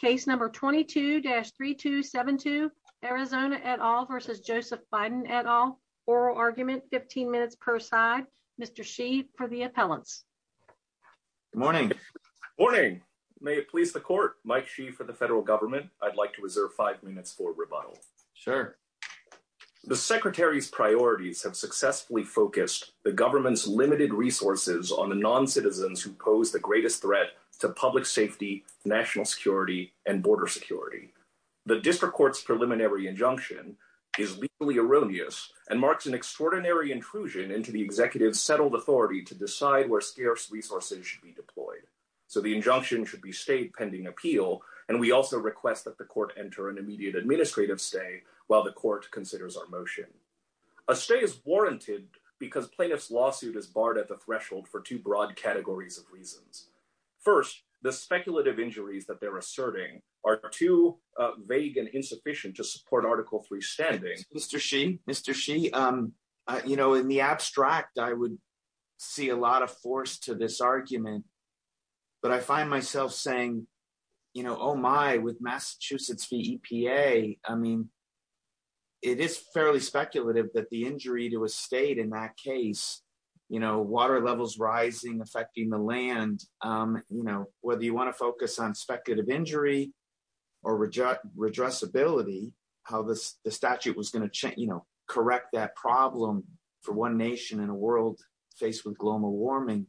case number 22-3272 Arizona et al versus Joseph Biden et al oral argument 15 minutes per side Mr. Shi for the appellants morning morning may it please the court Mike Shi for the federal government I'd like to reserve five minutes for rebuttal sure the secretary's priorities have successfully focused the government's limited resources on the non-citizens who national security and border security the district court's preliminary injunction is legally erroneous and marks an extraordinary intrusion into the executive's settled authority to decide where scarce resources should be deployed so the injunction should be stayed pending appeal and we also request that the court enter an immediate administrative stay while the court considers our motion a stay is warranted because plaintiff's lawsuit is the speculative injuries that they're asserting are too vague and insufficient to support article three standing Mr. Shi Mr. Shi you know in the abstract I would see a lot of force to this argument but I find myself saying you know oh my with Massachusetts v EPA I mean it is fairly speculative that the injury to a state in that case you know water levels rising affecting the land you know whether you want to focus on speculative injury or redressability how this the statute was going to change you know correct that problem for one nation in a world faced with global warming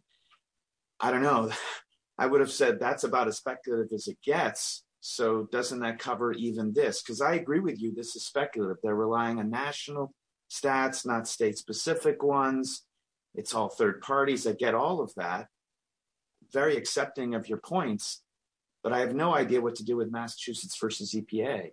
I don't know I would have said that's about as speculative as it gets so doesn't that cover even this because I agree with you this is speculative they're relying on national stats not state-specific ones it's all third parties that get all of that very accepting of your points but I have no idea what to do with Massachusetts versus EPA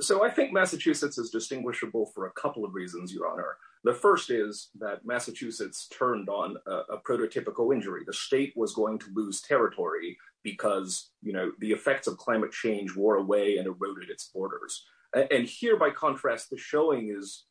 so I think Massachusetts is distinguishable for a couple of reasons your honor the first is that Massachusetts turned on a prototypical injury the state was going to lose territory because you know the effects of climate change wore away and eroded its borders and here by contrast the state was going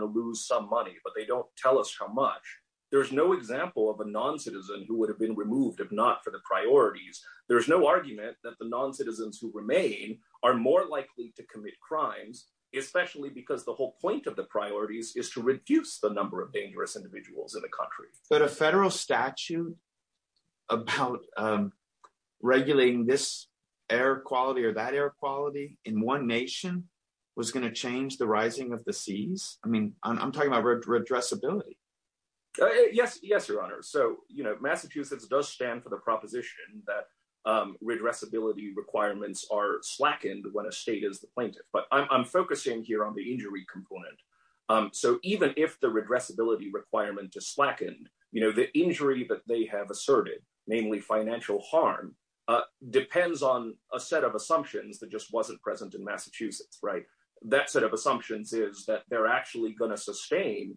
to lose some money but they don't tell us how much there's no example of a non-citizen who would have been removed if not for the priorities there's no argument that the non-citizens who remain are more likely to commit crimes especially because the whole point of the priorities is to reduce the number of dangerous individuals in the country but a federal statute about regulating this air quality or that air quality in one nation was going to change the rising of the seas I mean I'm talking about redressability yes yes your honor so you know Massachusetts does stand for the proposition that redressability requirements are slackened when a state is the plaintiff but I'm focusing here on the injury component so even if the redressability requirement is slackened you know the injury that they have asserted namely financial harm depends on a set of assumptions that just wasn't present in Massachusetts right that set of assumptions is that they're actually going to sustain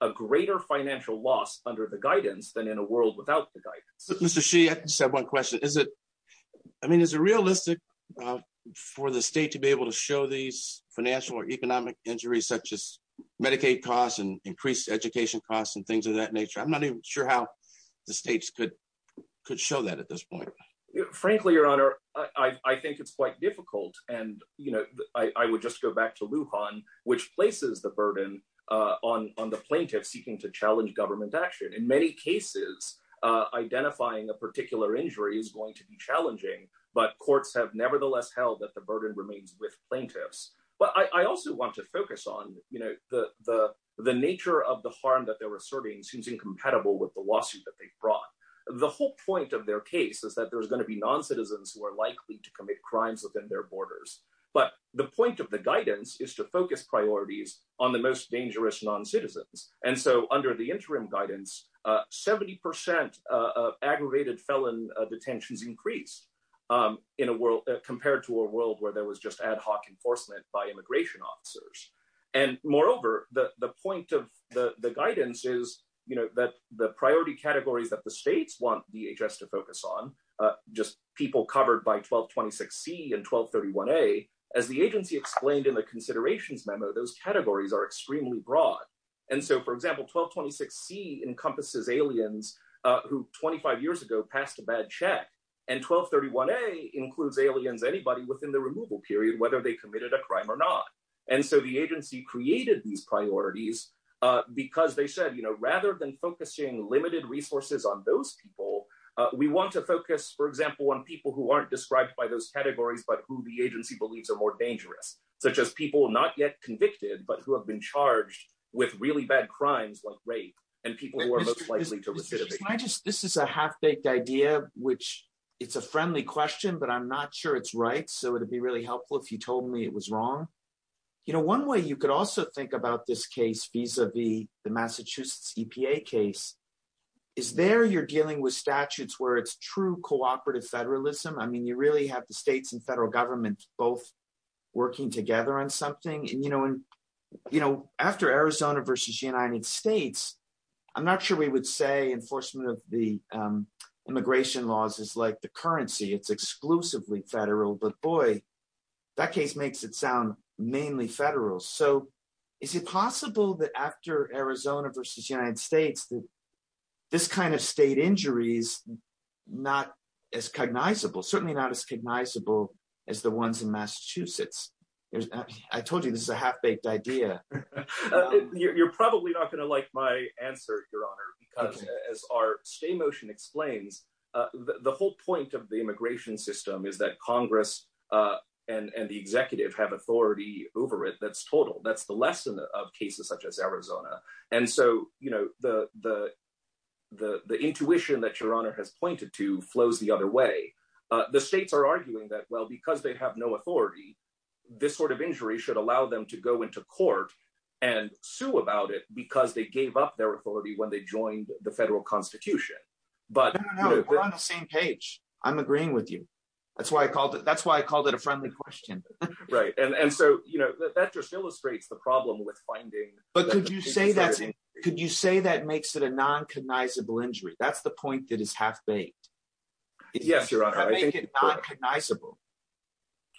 a greater financial loss under the guidance than in a world without the guidance Mr. Sheehan said one question is it I mean is it realistic for the state to be able to show these financial or economic injuries such as Medicaid costs and increased education costs and things of that nature I'm not even sure how the states could could show that at this point frankly your honor I think it's quite difficult and you know I would just go back to Lujan which places the burden uh on on the plaintiff seeking to challenge government action in many cases uh identifying a particular injury is going to be challenging but courts have nevertheless held that the burden remains with plaintiffs but I also want to focus on you know the the the nature of the harm that they're asserting seems incompatible with the lawsuit that they've brought the whole point of their case is that there's going to be non-citizens who are likely to commit crimes within their borders but the point of the guidance is to focus priorities on the most dangerous non-citizens and so under the interim guidance uh 70 percent of aggravated felon detentions increased um in a world compared to a world where there was just enforcement by immigration officers and moreover the the point of the the guidance is you know that the priority categories that the states want dhs to focus on uh just people covered by 1226c and 1231a as the agency explained in the considerations memo those categories are extremely broad and so for example 1226c encompasses aliens uh who 25 years ago passed a bad check and 1231a includes aliens anybody within the removal period whether they committed a crime or not and so the agency created these priorities uh because they said you know rather than focusing limited resources on those people uh we want to focus for example on people who aren't described by those categories but who the agency believes are more dangerous such as people not yet convicted but who have been charged with really bad crimes like rape and people who are most likely to right so it'd be really helpful if you told me it was wrong you know one way you could also think about this case vis-a-vis the massachusetts epa case is there you're dealing with statutes where it's true cooperative federalism i mean you really have the states and federal government both working together on something and you know and you know after arizona versus united states i'm not sure we would say enforcement of the um immigration laws is like the currency it's exclusively federal but boy that case makes it sound mainly federal so is it possible that after arizona versus united states that this kind of state injuries not as cognizable certainly not as cognizable as the ones in massachusetts i told you this is a half-baked idea you're probably not going to like my answer your honor because as our stay motion explains uh the whole point of the immigration system is that congress uh and and the executive have authority over it that's total that's the lesson of cases such as arizona and so you know the the the the intuition that your honor has pointed to flows the other way uh the states are arguing that well because they have no authority this sort of injury should allow them to go into court and sue about it because they gave up their authority when they joined the federal constitution but no we're on the same page i'm agreeing with you that's why i called it that's why i called it a friendly question right and and so you know that just illustrates the problem with finding but could you say that could you say that makes it a non-cognizable injury that's the point that is half-baked yes your honor i think it's not cognizable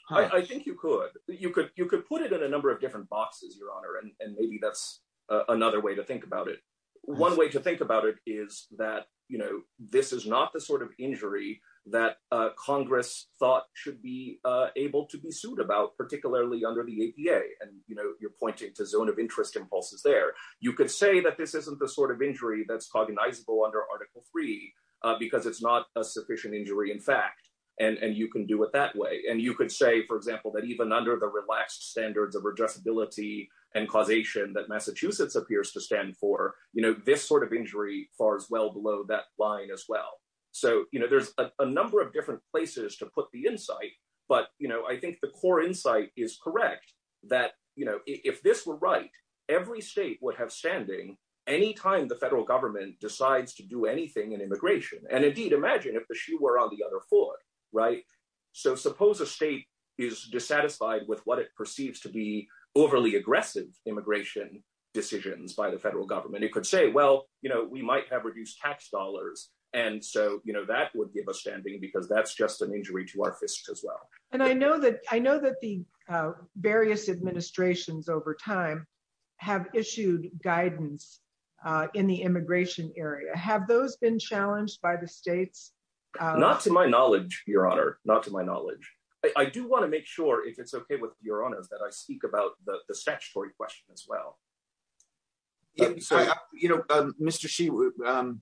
i i think you could you could you could put it in a number of different boxes your honor and maybe that's another way to think about it one way to think about it is that you know this is not the sort of injury that uh congress thought should be uh able to be sued about particularly under the apa and you know you're pointing to zone of interest impulses there you could say that this isn't the sort of injury that's cognizable under article three uh because it's not a sufficient injury in fact and and you can do it that way and you could say for example that even under the relaxed standards of addressability and causation that massachusetts appears to stand for you know this sort of injury far as well below that line as well so you know there's a number of different places to put the insight but you know i think the core insight is correct that you know if this were right every state would have standing anytime the federal government decides to do anything in immigration and indeed imagine if the shoe were on the other foot right so suppose a state is dissatisfied with what it perceives to be overly aggressive immigration decisions by the federal government it could say well you know we might have reduced tax dollars and so you know that would give us standing because that's just an injury to our fists as well and i know that i know that the uh various administrations over time have issued guidance uh in the immigration area have those been challenged by the states not to my knowledge your honor not to my knowledge i do want to make sure if it's okay with your honors that i speak about the the statutory question as well you know mr she would um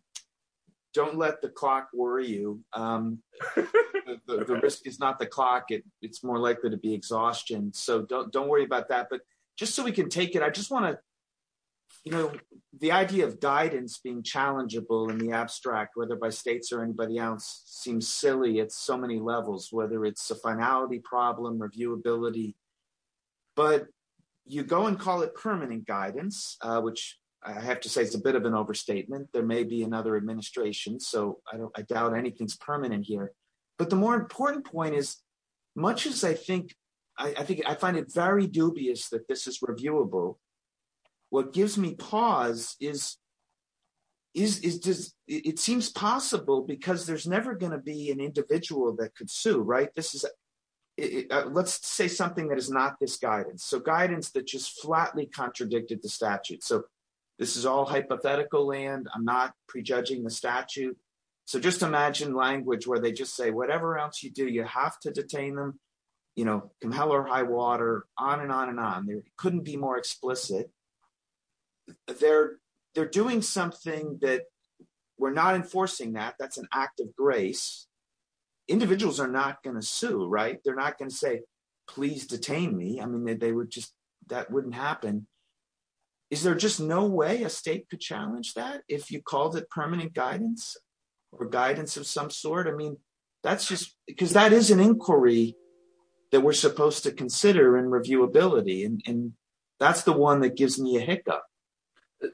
don't let the clock worry you um the risk is not the clock it it's more likely to be exhaustion so don't don't worry about that but just so we can take it i just want to you know the idea of guidance being challengeable in the abstract whether by states or anybody else seems silly at so many levels whether it's a finality problem reviewability but you go and call it permanent guidance uh which i have to say it's a bit of an overstatement there may be another administration so i don't i doubt anything's permanent here but the more important point is much as i think i i think i find it very dubious that this is reviewable what gives me pause is is is does it seems possible because there's never going to be an individual that could sue right this is let's say something that is not this guidance so guidance that just flatly contradicted the statute so this is all hypothetical land i'm not prejudging the statute so just imagine language where they just say whatever else you do you have to detain them you know come hell or high water on and on and on there couldn't be more explicit they're they're doing something that we're not enforcing that that's an act of grace individuals are not going to sue right they're not going to say please detain me i mean they would just that wouldn't happen is there just no way a state could challenge that if you called it permanent guidance or guidance of some sort i mean that's just because that is an inquiry that we're supposed to consider and reviewability and that's the one that gives me a hiccup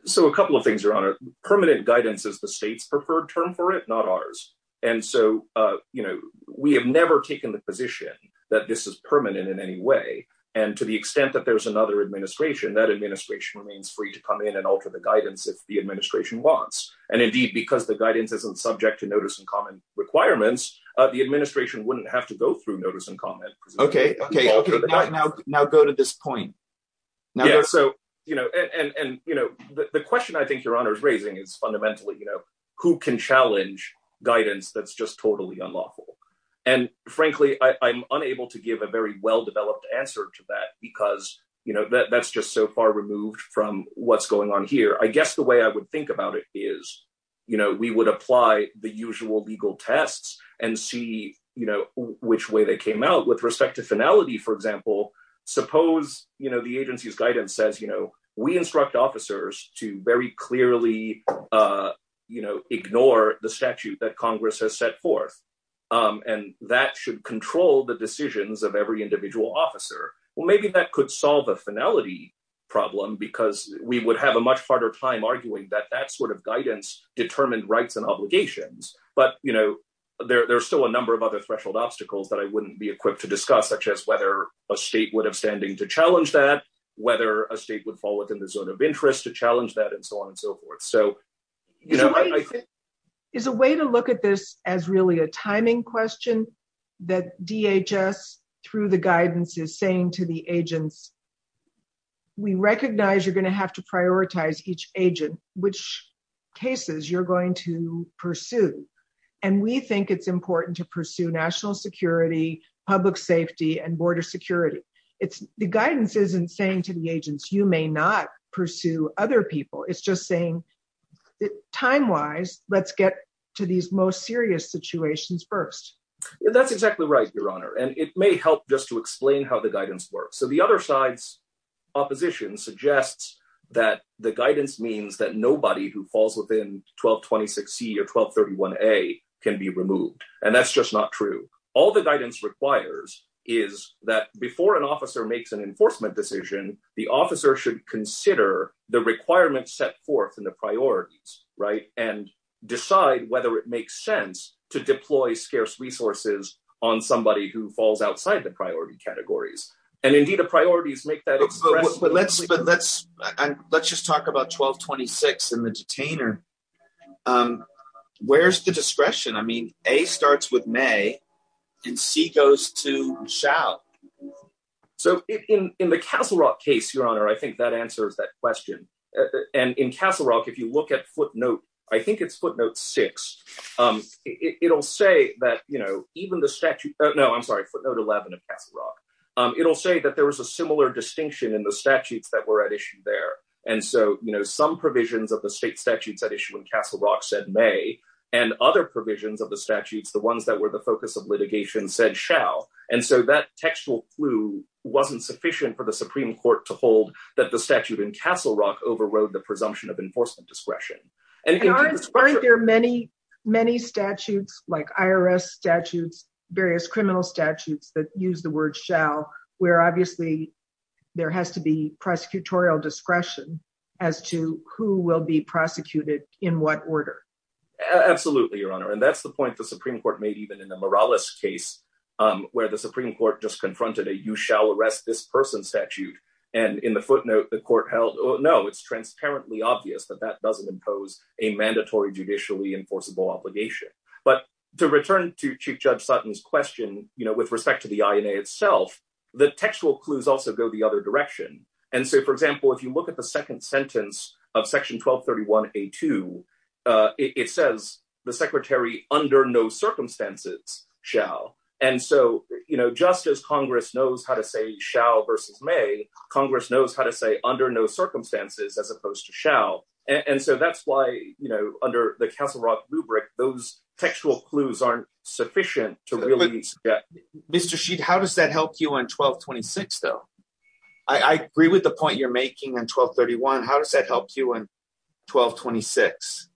so a couple of things your honor permanent guidance is the state's preferred term for it not ours and so uh you know we have never taken the position that this is permanent in any way and to the extent that there's another administration that administration remains free to come in and alter the guidance if the administration wants and indeed because the guidance isn't subject to notice and comment requirements uh the administration wouldn't have to go through notice and comment okay okay okay now now go to this point yeah so you know and and you know the question i think your honor is raising is fundamentally you know who can challenge guidance that's just totally unlawful and frankly i i'm unable to give a very well-developed answer to that because you know that that's just so far removed from what's going on here i guess the way i would think about it is you know we would apply the usual legal tests and see you know which way they came out with respect to finality for example suppose you know the agency's guidance says you know we instruct officers to very clearly uh you know ignore the statute that congress has set forth um and that should control the decisions of every individual officer well maybe that could solve a finality problem because we would have a much harder time arguing that that sort of guidance determined rights and obligations but you know there there's still a number of other threshold obstacles that i wouldn't be equipped to discuss such as whether a state would have standing to challenge that whether a state would fall within the zone of interest to challenge that and so on and so forth so is a way to look at this as really a timing question that dhs through the guidance is saying to the agents we recognize you're going to have to prioritize each agent which cases you're to pursue and we think it's important to pursue national security public safety and border security it's the guidance isn't saying to the agents you may not pursue other people it's just saying time wise let's get to these most serious situations first that's exactly right your honor and it may help just to explain how the guidance works so the other side's opposition suggests that the guidance means that nobody who falls within 1226 c or 1231 a can be removed and that's just not true all the guidance requires is that before an officer makes an enforcement decision the officer should consider the requirements set forth in the priorities right and decide whether it makes sense to deploy scarce resources on somebody who falls outside the priority categories and indeed the priorities make that but let's but let's and let's just talk about 1226 and the detainer um where's the discretion i mean a starts with may and c goes to shall so in in the castle rock case your honor i think that answers that question and in castle rock if you look at foot note i think it's footnote six um it'll say that you know even the statute no i'm sorry footnote 11 of castle rock um it'll say that there was a similar distinction in the statutes that were at issue there and so you know some provisions of the state statutes at issue in castle rock said may and other provisions of the statutes the ones that were the focus of litigation said shall and so that textual clue wasn't sufficient for the supreme court to hold that the statute in castle rock overrode the presumption of enforcement discretion and aren't there many many statutes like irs statutes various criminal statutes that use the word shall where obviously there has to be prosecutorial discretion as to who will be prosecuted in what order absolutely your honor and that's the point the supreme court made even in the morales case um where the supreme court just confronted a you shall arrest this person statute and in the footnote the court held no it's transparently obvious that that doesn't impose a mandatory judicially enforceable obligation but to return to chief judge sutton's question you know with respect to the ina itself the textual clues also go the other direction and so for example if you look at the second sentence of section 1231 a2 uh it says the secretary under no circumstances shall and so you know just as congress knows how to say shall versus may congress knows how to say under no circumstances as opposed to shall and so that's why you know under the castle rock rubric those textual clues aren't sufficient to really get mr sheet how does that help you on 1226 though i i agree with the point you're making in 1231 how does that help you in 1226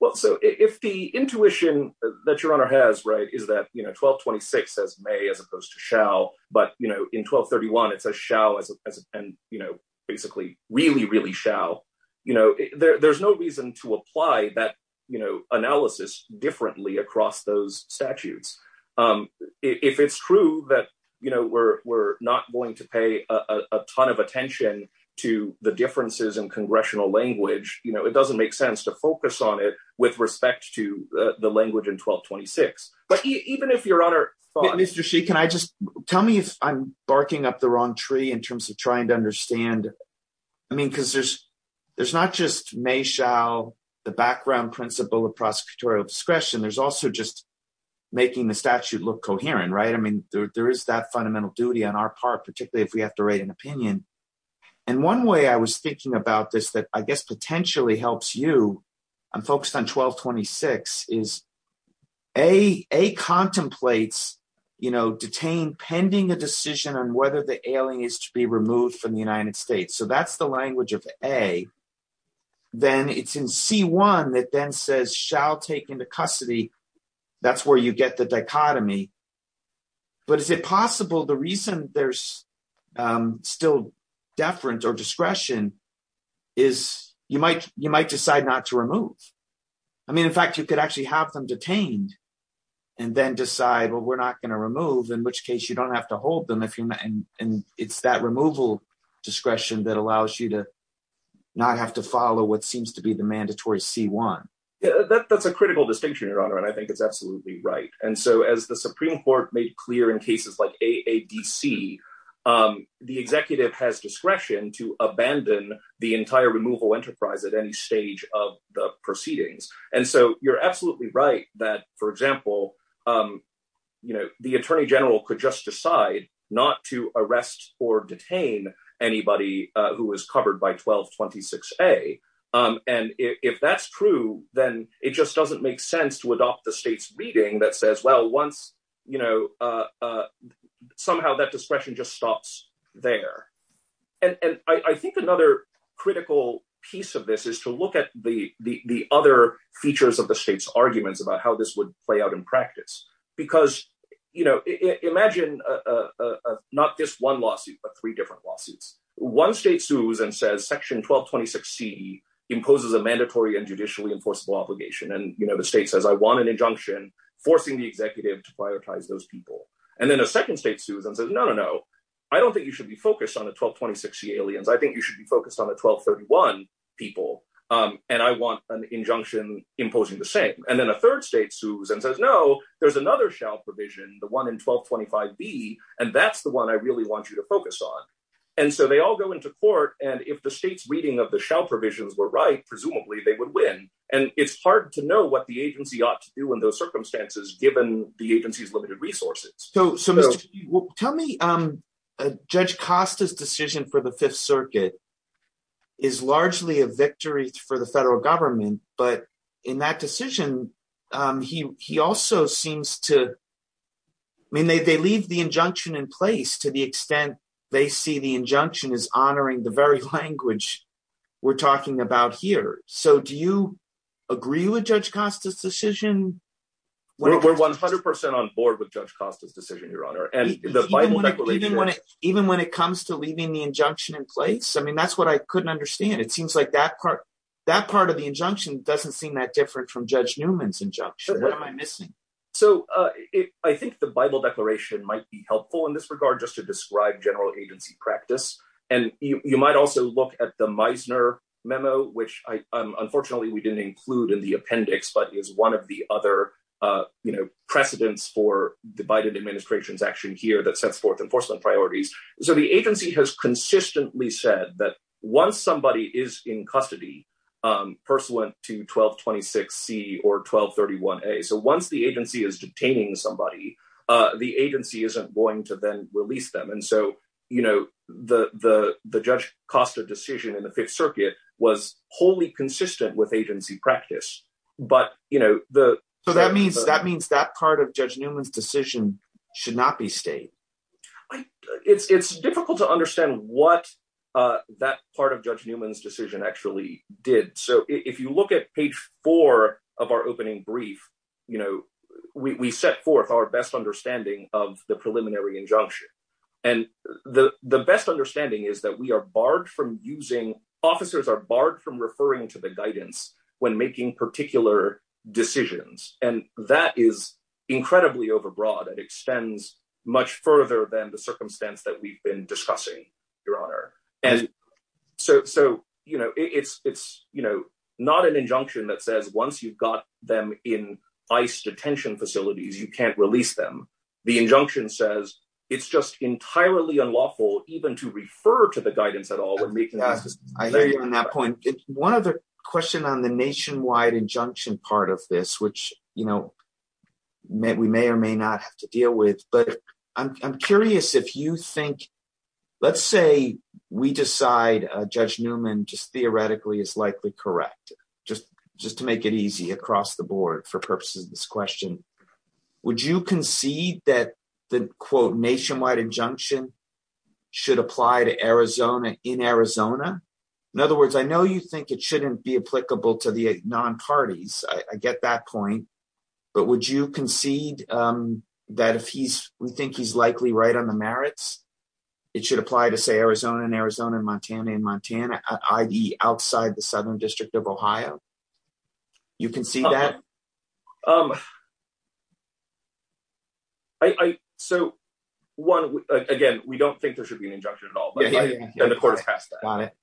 well so if the intuition that your honor has right is that you know 1226 as may as opposed to shall but you know in 1231 it's a shall as and you know basically really really shall you know there's no reason to apply that you know analysis differently across those statutes um if it's true that you know we're we're not going to pay a ton of attention to the differences in congressional language you know it doesn't make sense to focus on it with respect to the language in 1226 but even if your honor thought mr she can i just tell me if i'm barking up the wrong tree in terms of trying to understand i mean because there's there's not just may shall the background principle of prosecutorial discretion there's also just making the statute look coherent right i mean there is that fundamental duty on our part particularly if we have to write an opinion and one way i was thinking about this that i guess pending a decision on whether the alien is to be removed from the united states so that's the language of a then it's in c1 that then says shall take into custody that's where you get the dichotomy but is it possible the reason there's um still deference or discretion is you might you might decide not to remove i mean in fact you could actually have them detained and then decide well in which case you don't have to hold them if you're and it's that removal discretion that allows you to not have to follow what seems to be the mandatory c1 yeah that's a critical distinction your honor and i think it's absolutely right and so as the supreme court made clear in cases like aadc um the executive has discretion to abandon the entire removal enterprise at any the attorney general could just decide not to arrest or detain anybody who is covered by 1226 a um and if that's true then it just doesn't make sense to adopt the state's reading that says well once you know uh somehow that discretion just stops there and and i i think another critical piece of this is to look at the the the other features of the state's arguments about how this would play out in practice because you know imagine a a not just one lawsuit but three different lawsuits one state sues and says section 1226 c imposes a mandatory and judicially enforceable obligation and you know the state says i want an injunction forcing the executive to prioritize those people and then a second state sues and says no no i don't think you should be focused on the 1226 c aliens i think you should be focused on the 1231 people um and i want an there's another shell provision the one in 1225 b and that's the one i really want you to focus on and so they all go into court and if the state's reading of the shell provisions were right presumably they would win and it's hard to know what the agency ought to do in those circumstances given the agency's limited resources so so tell me um judge costa's decision for the fifth circuit is largely a victory for the federal government but in that decision um he he also seems to i mean they they leave the injunction in place to the extent they see the injunction is honoring the very language we're talking about here so do you agree with judge costa's decision we're 100 on board with judge costa's decision your honor and the bible declaration even when it comes to leaving the injunction in place i mean that's what i couldn't understand it seems like that part that part of the injunction doesn't seem that different from judge newman's injunction what am i missing so uh i think the bible declaration might be helpful in this regard just to describe general agency practice and you you might also look at the meisner memo which i um unfortunately we didn't include in the appendix but is one of the other uh you know precedents for the agency has consistently said that once somebody is in custody um pursuant to 1226 c or 1231 a so once the agency is detaining somebody uh the agency isn't going to then release them and so you know the the the judge costa decision in the fifth circuit was wholly consistent with agency practice but you know the so that means that means that part of judge newman's decision should not be stayed it's it's difficult to understand what uh that part of judge newman's decision actually did so if you look at page four of our opening brief you know we we set forth our best understanding of the preliminary injunction and the the best understanding is that we are barred from using officers are barred from referring to the guidance when making particular decisions and that is incredibly overbroad it extends much further than the circumstance that we've been discussing your honor and so so you know it's it's you know not an injunction that says once you've got them in ice detention facilities you can't release them the injunction says it's just entirely unlawful even to refer to the guidance at all when making that point one other question on the nationwide injunction part of this which you know we may or may not have to deal with but i'm curious if you think let's say we decide uh judge newman just theoretically is likely correct just just to make it easy across the board for purposes of this question would you concede that the quote nationwide injunction should apply to you think it shouldn't be applicable to the non-parties i i get that point but would you concede um that if he's we think he's likely right on the merits it should apply to say arizona and arizona and montana and montana i.e outside the southern district of ohio you can see that um i i so one again we don't think there should be an injunction at all but the court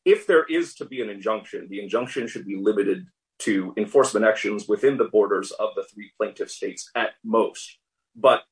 if there is to be an injunction the injunction should be limited to enforcement actions within the borders of the three plaintiff states at most but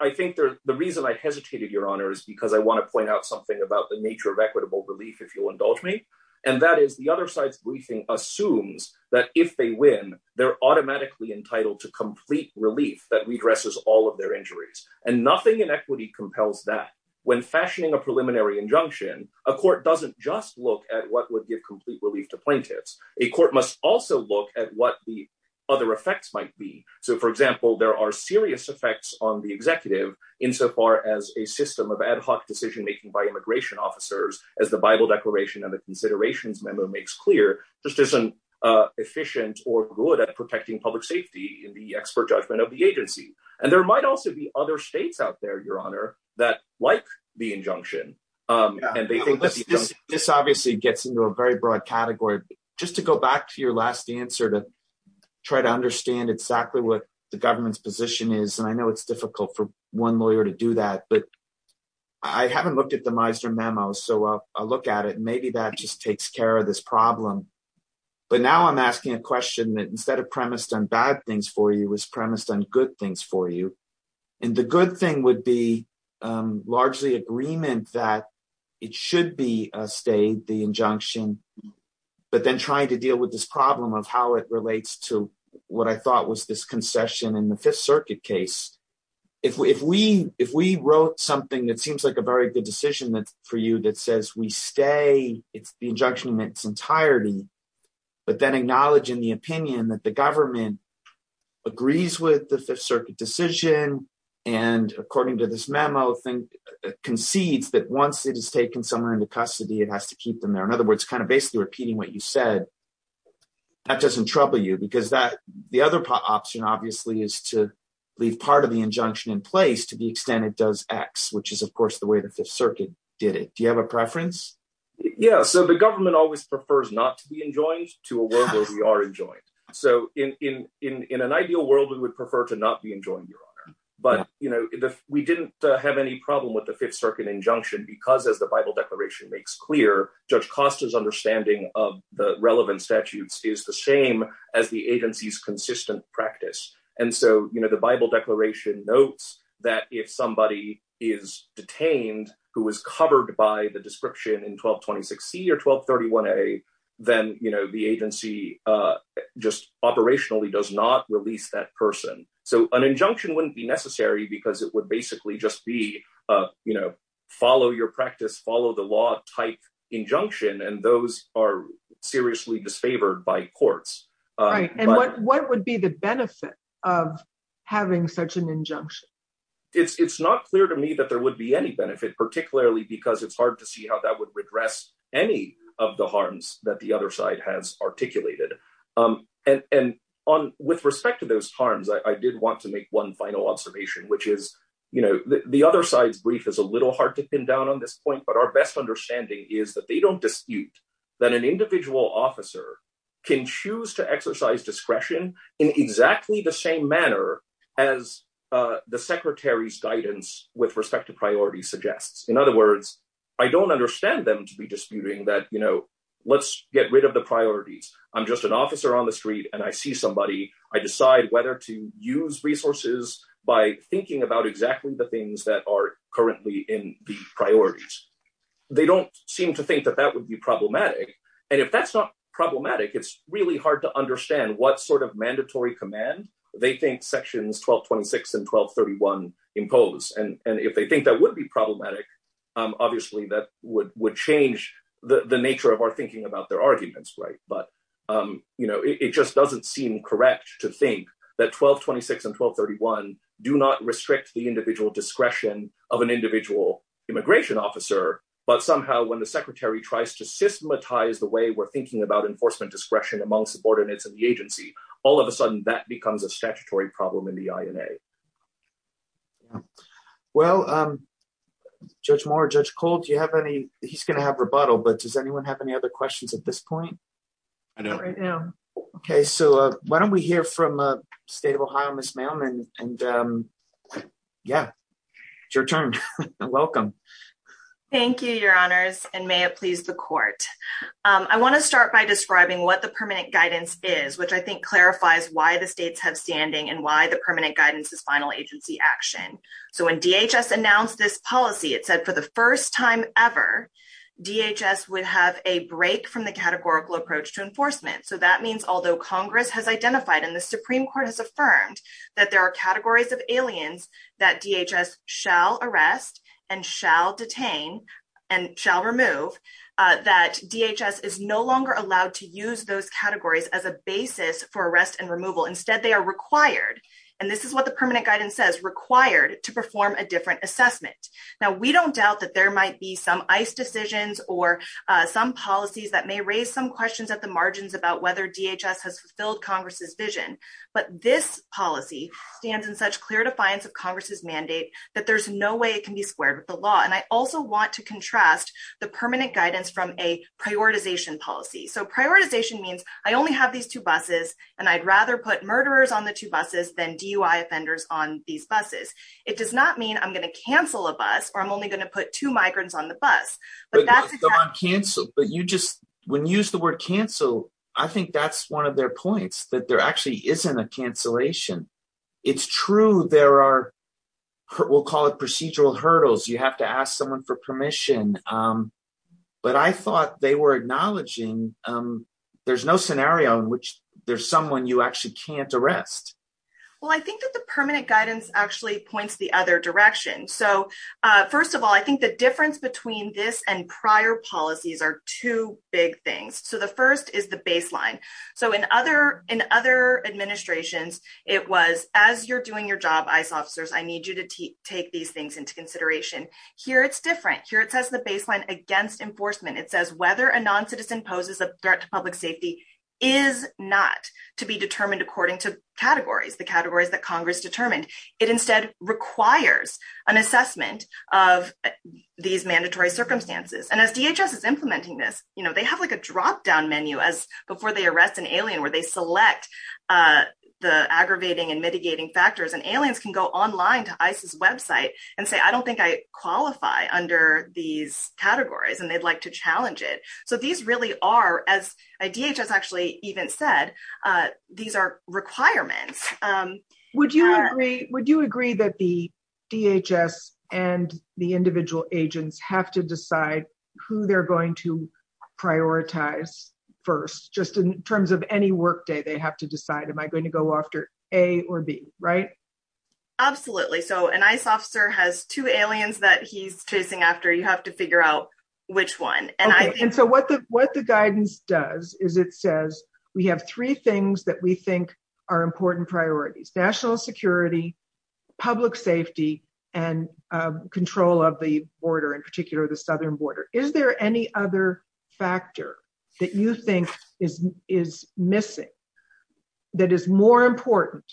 i think the reason i hesitated your honor is because i want to point out something about the nature of equitable relief if you'll indulge me and that is the other side's briefing assumes that if they win they're automatically entitled to complete relief that redresses all of their injuries and nothing in equity compels that when fashioning a preliminary injunction a court doesn't just look at what would give complete relief to plaintiffs a court must also look at what the other effects might be so for example there are serious effects on the executive insofar as a system of ad hoc decision making by immigration officers as the bible declaration and the considerations memo makes clear just isn't uh efficient or good at protecting public safety in the expert judgment of the agency and there the injunction um and they think this obviously gets into a very broad category just to go back to your last answer to try to understand exactly what the government's position is and i know it's difficult for one lawyer to do that but i haven't looked at the meister memo so i'll look at it maybe that just takes care of this problem but now i'm asking a question that instead of premised on premised on good things for you and the good thing would be largely agreement that it should be a state the injunction but then trying to deal with this problem of how it relates to what i thought was this concession in the fifth circuit case if we if we wrote something that seems like a very good decision that for you that says we stay it's the injunction in its entirety but then acknowledge in the opinion that the government agrees with the fifth circuit decision and according to this memo thing concedes that once it is taken somewhere into custody it has to keep them there in other words kind of basically repeating what you said that doesn't trouble you because that the other option obviously is to leave part of the injunction in place to the extent it does x which is of course the way the fifth circuit did it do you have a preference yeah so the government always prefers not to be enjoined to a world where we are enjoined so in in in an ideal world we would prefer to not be enjoined your honor but you know we didn't have any problem with the fifth circuit injunction because as the bible declaration makes clear judge costa's understanding of the relevant statutes is the same as the agency's consistent practice and so you know the bible declaration notes that if somebody is detained who was covered by the description in 1226 c or 1231 a then you know the agency uh just operationally does not release that person so an injunction wouldn't be necessary because it would basically just be uh you know follow your practice follow the law type injunction and those are seriously disfavored by courts right and what what would be the benefit of having such an injunction it's it's not clear to me that there would be any benefit particularly because it's hard to see how that would redress any of the harms that the other side has articulated um and and on with respect to those harms i did want to make one final observation which is you know the other side's brief is a little hard to pin down on this point but our best understanding is that they don't dispute that an individual officer can choose to exercise discretion in exactly the same manner as uh the secretary's guidance with respect to priorities suggests in other words i don't understand them to be disputing that you know let's get rid of the priorities i'm just an officer on the street and i see somebody i decide whether to use resources by thinking about exactly the things that are currently in the priorities they don't seem to think that that would be problematic and if that's not problematic it's really hard to understand what sort of mandatory command they think sections 1226 and 1231 impose and and if they think that would be problematic um obviously that would would change the the nature of our thinking about their arguments right but um you know it just doesn't seem correct to think that 1226 and 1231 do not restrict the individual discretion of an individual immigration officer but somehow when the secretary tries to systematize the way we're thinking about enforcement discretion among subordinates of the agency all of a sudden that becomes a statutory problem in the ina well um judge moore judge cole do you have any he's going to have rebuttal but does anyone have any other questions at this point i know right now okay so uh why don't we hear from uh state of ohio miss mailman and um yeah it's your turn welcome thank you your honors and may it please the court um i want to start by describing what the permanent guidance is which i think clarifies why the states have standing and why the permanent guidance is final agency action so when dhs announced this policy it said for the first time ever dhs would have a break from the categorical approach to enforcement so that means although congress has identified and the supreme court has affirmed that there are categories of aliens that dhs shall arrest and shall detain and shall remove that dhs is no longer allowed to use those categories as a basis for arrest and removal instead they are required and this is what the permanent guidance says required to perform a different assessment now we don't doubt that there might be some ice decisions or some policies that may raise some questions at the margins about whether dhs has fulfilled congress's vision but this policy stands in such clear defiance of congress's mandate that there's no way it also want to contrast the permanent guidance from a prioritization policy so prioritization means i only have these two buses and i'd rather put murderers on the two buses than dui offenders on these buses it does not mean i'm going to cancel a bus or i'm only going to put two migrants on the bus but that's canceled but you just when you use the word cancel i think that's one of their points that there actually isn't a cancellation it's true there are we'll call it for permission um but i thought they were acknowledging um there's no scenario in which there's someone you actually can't arrest well i think that the permanent guidance actually points the other direction so uh first of all i think the difference between this and prior policies are two big things so the first is the baseline so in other in other administrations it was as you're doing your job ice officers i need you to take these things into consideration here it's different here it says the baseline against enforcement it says whether a non-citizen poses a threat to public safety is not to be determined according to categories the categories that congress determined it instead requires an assessment of these mandatory circumstances and as dhs is implementing this you know they have like a drop down menu as before they arrest an alien where they select uh the aggravating and mitigating factors and aliens can go online to qualify under these categories and they'd like to challenge it so these really are as a dhs actually even said uh these are requirements um would you agree would you agree that the dhs and the individual agents have to decide who they're going to prioritize first just in terms of any work day they have to decide am i going to go after a or b right absolutely so an ice officer has two aliens that he's chasing after you have to figure out which one and i and so what the what the guidance does is it says we have three things that we think are important priorities national security public safety and uh control of the border in particular the southern border is there any other factor that you think is is missing that is more important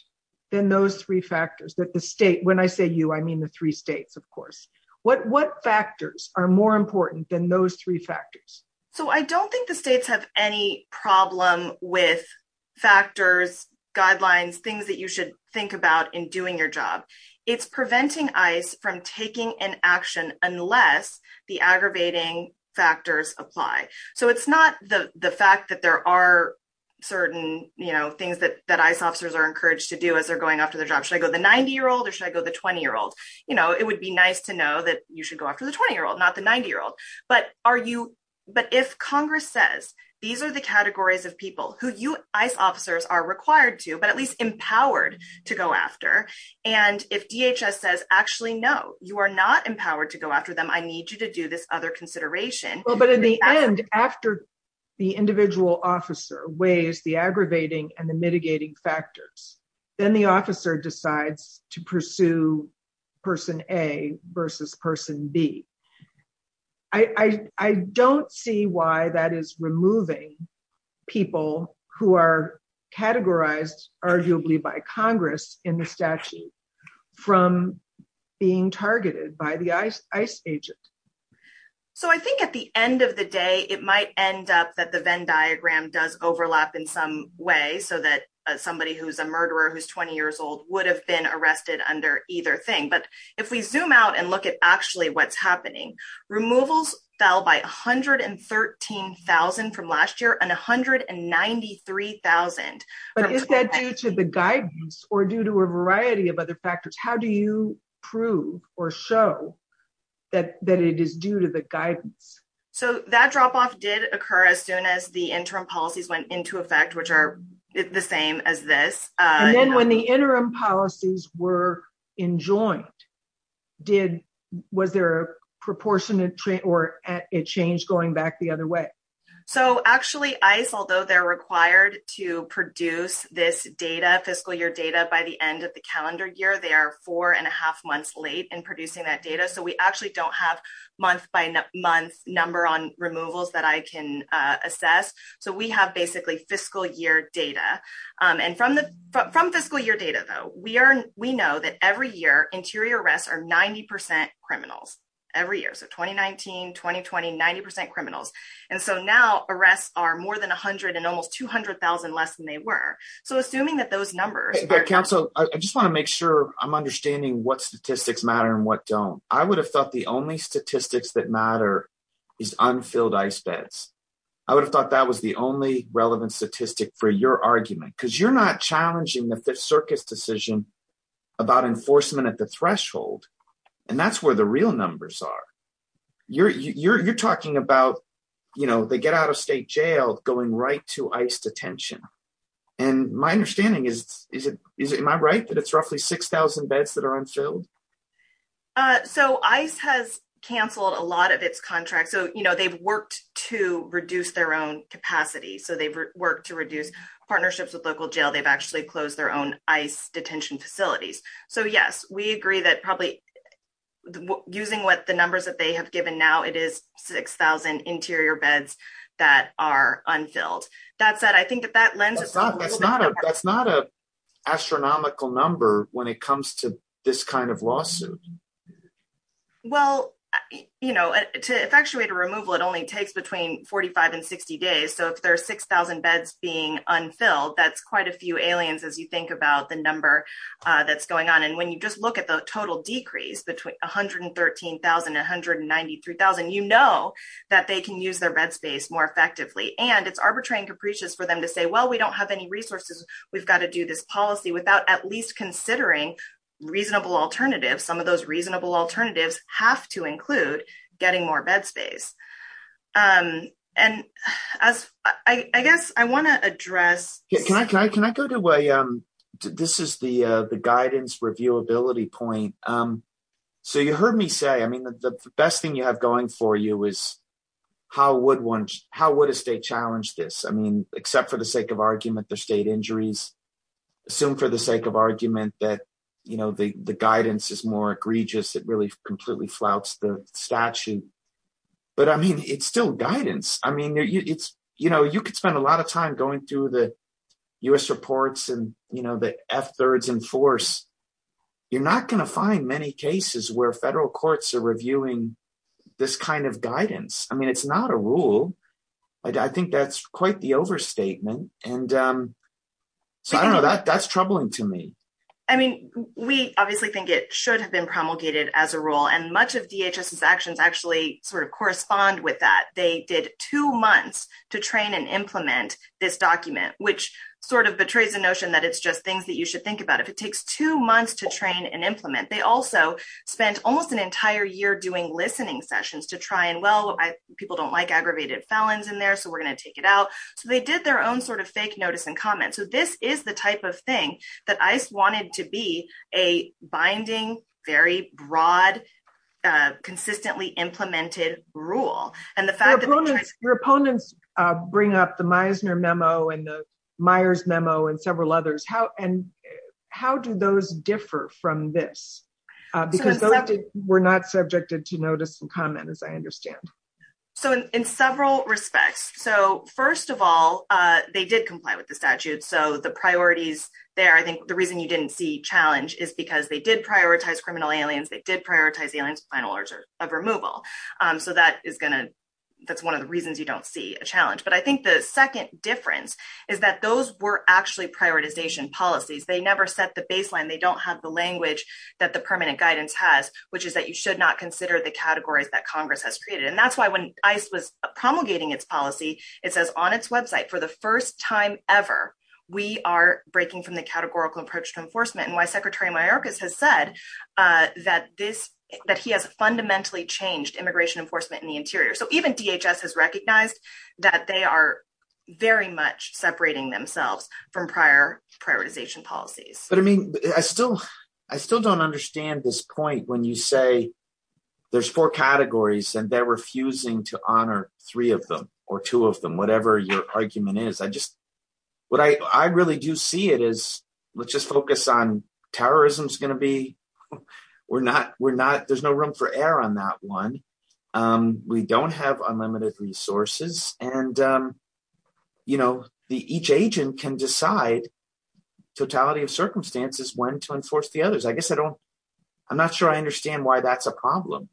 than those three factors that the state when i say you i mean the three states of course what what factors are more important than those three factors so i don't think the states have any problem with factors guidelines things that you should think about in doing your job it's preventing ice from taking an action unless the aggravating factors apply so it's not the the fact that there are certain you know things that ice officers are encouraged to do as they're going after their job should i go the 90 year old or should i go the 20 year old you know it would be nice to know that you should go after the 20 year old not the 90 year old but are you but if congress says these are the categories of people who you ice officers are required to but at least empowered to go after and if dhs says actually no you are not empowered to go after them i need you to do this other consideration well but in the end after the individual officer weighs the aggravating and the mitigating factors then the officer decides to pursue person a versus person b i i don't see why that is removing people who are categorized arguably by congress in the statute from being targeted by the ice agent so i think at the end of the day it might end up that the venn diagram does overlap in some way so that somebody who's a murderer who's 20 years old would have been arrested under either thing but if we zoom out and look at actually what's happening removals fell by 113,000 from last year and 193,000 but is that due to the guidance or due to a variety of other factors how do you prove or show that that it is due to the guidance so that drop-off did occur as soon as the interim policies went into effect which are the same as this and then when the interim policies were enjoined did was there a proportionate trade or a change going back the other way so actually ice although they're required to produce this data fiscal year data by the end of the calendar year they are four and a half months late in producing that data so we actually don't have month by month number on removals that i can assess so we have basically fiscal year data and from the from fiscal year data though we are we know that every year interior arrests are 90 criminals every year so 2019 2020 90 criminals and so now arrests are more than 100 and almost 200,000 less than they were so assuming that those numbers council i just want to make sure i'm understanding what statistics matter and what don't i would have thought the only statistics that matter is unfilled ice beds i would have thought that was the only relevant statistic for your argument because you're not challenging the fifth circus decision about enforcement at the threshold and that's where the real numbers are you're you're you're talking about you know they get out of state jail going right to ice detention and my understanding is is it is it my right that it's roughly 6,000 beds that are unfilled uh so ice has canceled a lot of its contracts so you know they've worked to reduce their own capacity so they've worked to reduce partnerships with local jail they've actually closed their own ice detention facilities so yes we agree that probably using what the numbers that they have given now it is 6,000 interior beds that are unfilled that said i think that that lens is not that's not a that's not a astronomical number when it comes to this kind of lawsuit well you know to effectuate a removal it only takes between 45 and 60 days so if there are 6,000 beds being unfilled that's quite a few aliens as you think about the number uh that's going on and when you just look at the total decrease between 113,193,000 you know that they can use their bed space more effectively and it's arbitrary and capricious for them to say well we don't have any resources we've got to do this policy without at least considering reasonable alternatives some of those reasonable alternatives have to include getting more bed space um and as i i guess i want to address can i can i can i go to way um this is the uh the guidance reviewability point um so you heard me say i mean the best thing you have going for you is how would one how would a state challenge this i mean except for the sake of argument their state injuries assume for the sake of argument that you know the the guidance is more egregious it really completely flouts the statute but i mean it's still guidance i mean it's you know you could spend a lot of time going through the u.s reports and you know the f-thirds in force you're not going to find many cases where federal courts are reviewing this kind of guidance i mean it's not a rule i think that's quite the overstatement and um so i don't know that that's troubling to me i mean we obviously think it should have been promulgated as a rule and much of dhs's actions actually sort of correspond with that they did two months to train and implement this document which sort of betrays the notion that it's just things that you should think about if it takes two months to train and implement they also spent almost an entire year doing listening sessions to try and well i people don't like aggravated felons in there so we're going to take it out so they did their own sort of fake notice and comments so this is the type of thing that i wanted to be a binding very broad consistently implemented rule and the fact that your opponents bring up the meisner memo and the meyers memo and several others how and how do those differ from this because those were not subjected to notice and comment as i understand so in several respects so first of all uh they did comply with the statute so the priorities there i think the reason you didn't see challenge is because they did prioritize criminal aliens they did prioritize the aliens final order of removal um so that is gonna that's one of the reasons you don't see a challenge but i think the second difference is that those were actually prioritization policies they never set the baseline they don't have the language that the permanent guidance has which is that you should not consider the categories that congress has created and that's why when ice was promulgating its policy it says on its website for the first time ever we are breaking from the categorical approach to enforcement and why secretary mayorkas has said uh that this that he has fundamentally changed immigration enforcement in the interior so even dhs has recognized that they are very much separating themselves from prior prioritization policies but i mean i still i still don't understand this point when you say there's four categories and they're refusing to honor three of them or two of them whatever your argument is i just what i i really do see it as let's just focus on terrorism's going to be we're not we're not there's no room for error on that one um we don't have unlimited resources and um you know the each agent can decide totality of circumstances when to enforce the others i guess i don't i'm not sure i understand why that's a problem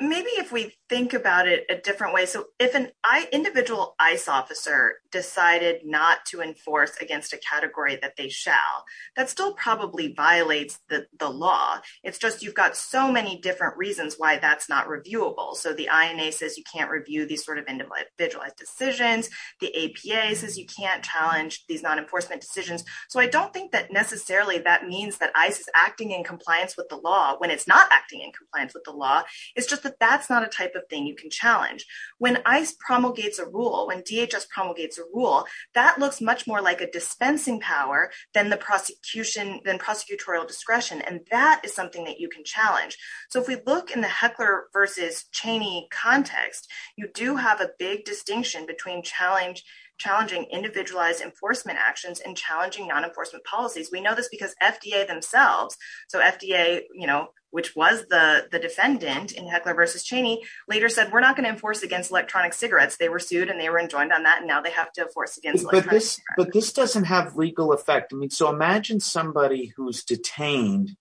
maybe if we think about it a different way so if an i individual ice officer decided not to enforce against a category that they shall that still probably violates the the law it's just you've got so many different reasons why that's not reviewable so the ina says you can't review these sort of individualized decisions the apa says you can't challenge these non-enforcement decisions so i don't think that necessarily that means that ice is acting in compliance with the law when it's acting in compliance with the law it's just that that's not a type of thing you can challenge when ice promulgates a rule when dhs promulgates a rule that looks much more like a dispensing power than the prosecution than prosecutorial discretion and that is something that you can challenge so if we look in the heckler versus cheney context you do have a big distinction between challenge challenging individualized enforcement actions and challenging non-enforcement policies we know this because fda themselves so fda you know which was the the defendant in heckler versus cheney later said we're not going to enforce against electronic cigarettes they were sued and they were enjoined on that and now they have to force against but this but this doesn't have legal effect i mean so imagine somebody who's detained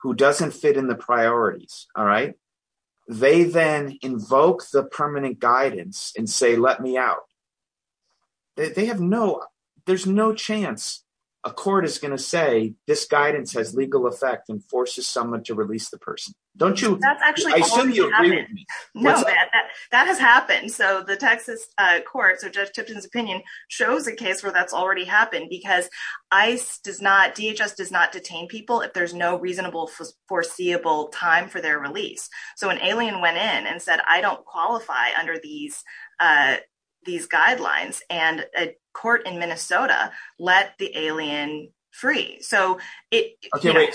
who doesn't fit in the priorities all right they then invoke the permanent guidance and say let me out they have no there's no chance a court is going to say this guidance has legal effect and forces someone to release the person don't you that's actually i assume you agree with me no that that has happened so the texas uh court so judge tipton's opinion shows a case where that's already happened because ice does not dhs does not detain people if there's no reasonable foreseeable time for their release so an alien went in and said i don't qualify under these uh these guidelines and a court in minnesota let the alien free so it okay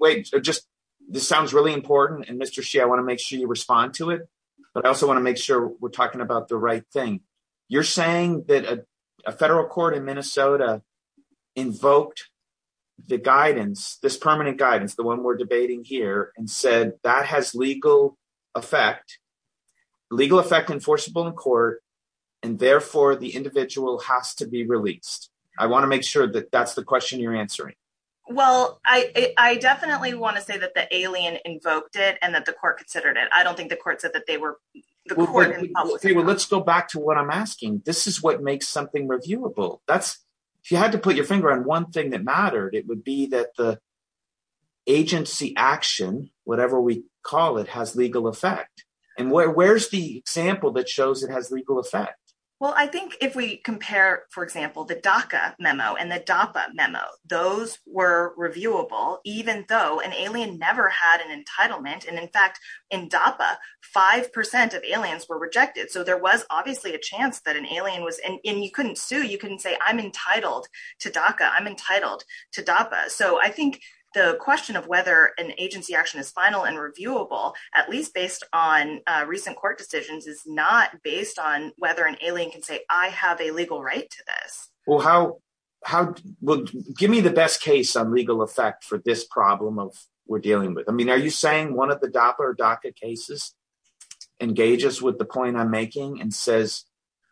wait just this sounds really important and mr she i want to make sure you respond to it but i also want to make sure we're talking about the right thing you're saying that a federal court in minnesota invoked the guidance this permanent guidance the one we're debating here and said that has legal effect legal effect enforceable in court and therefore the individual has to be released i want to make sure that that's the question you're answering well i i definitely want to say that the alien invoked it and that the court considered it i don't think the court said that they were the court okay well let's go back to what i'm asking this is what makes something reviewable that's if you had to put your finger on one thing that mattered it would be that the agency action whatever we call it has legal effect and where's the example that shows it has legal effect well i think if we compare for example the daca memo and the dapa memo those were reviewable even though an alien never had an entitlement and in fact in dapa five percent of aliens were rejected so there was obviously a chance that an alien was and you couldn't sue you couldn't say i'm entitled to daca i'm entitled to dapa so i think the question of whether an agency action is final and reviewable at least based on recent court decisions is not based on whether an alien can say i have a legal right to this well how how well give me the best case on legal effect for this problem of we're dealing with i mean are you saying one of the doppler daca cases engages with the point i'm making and says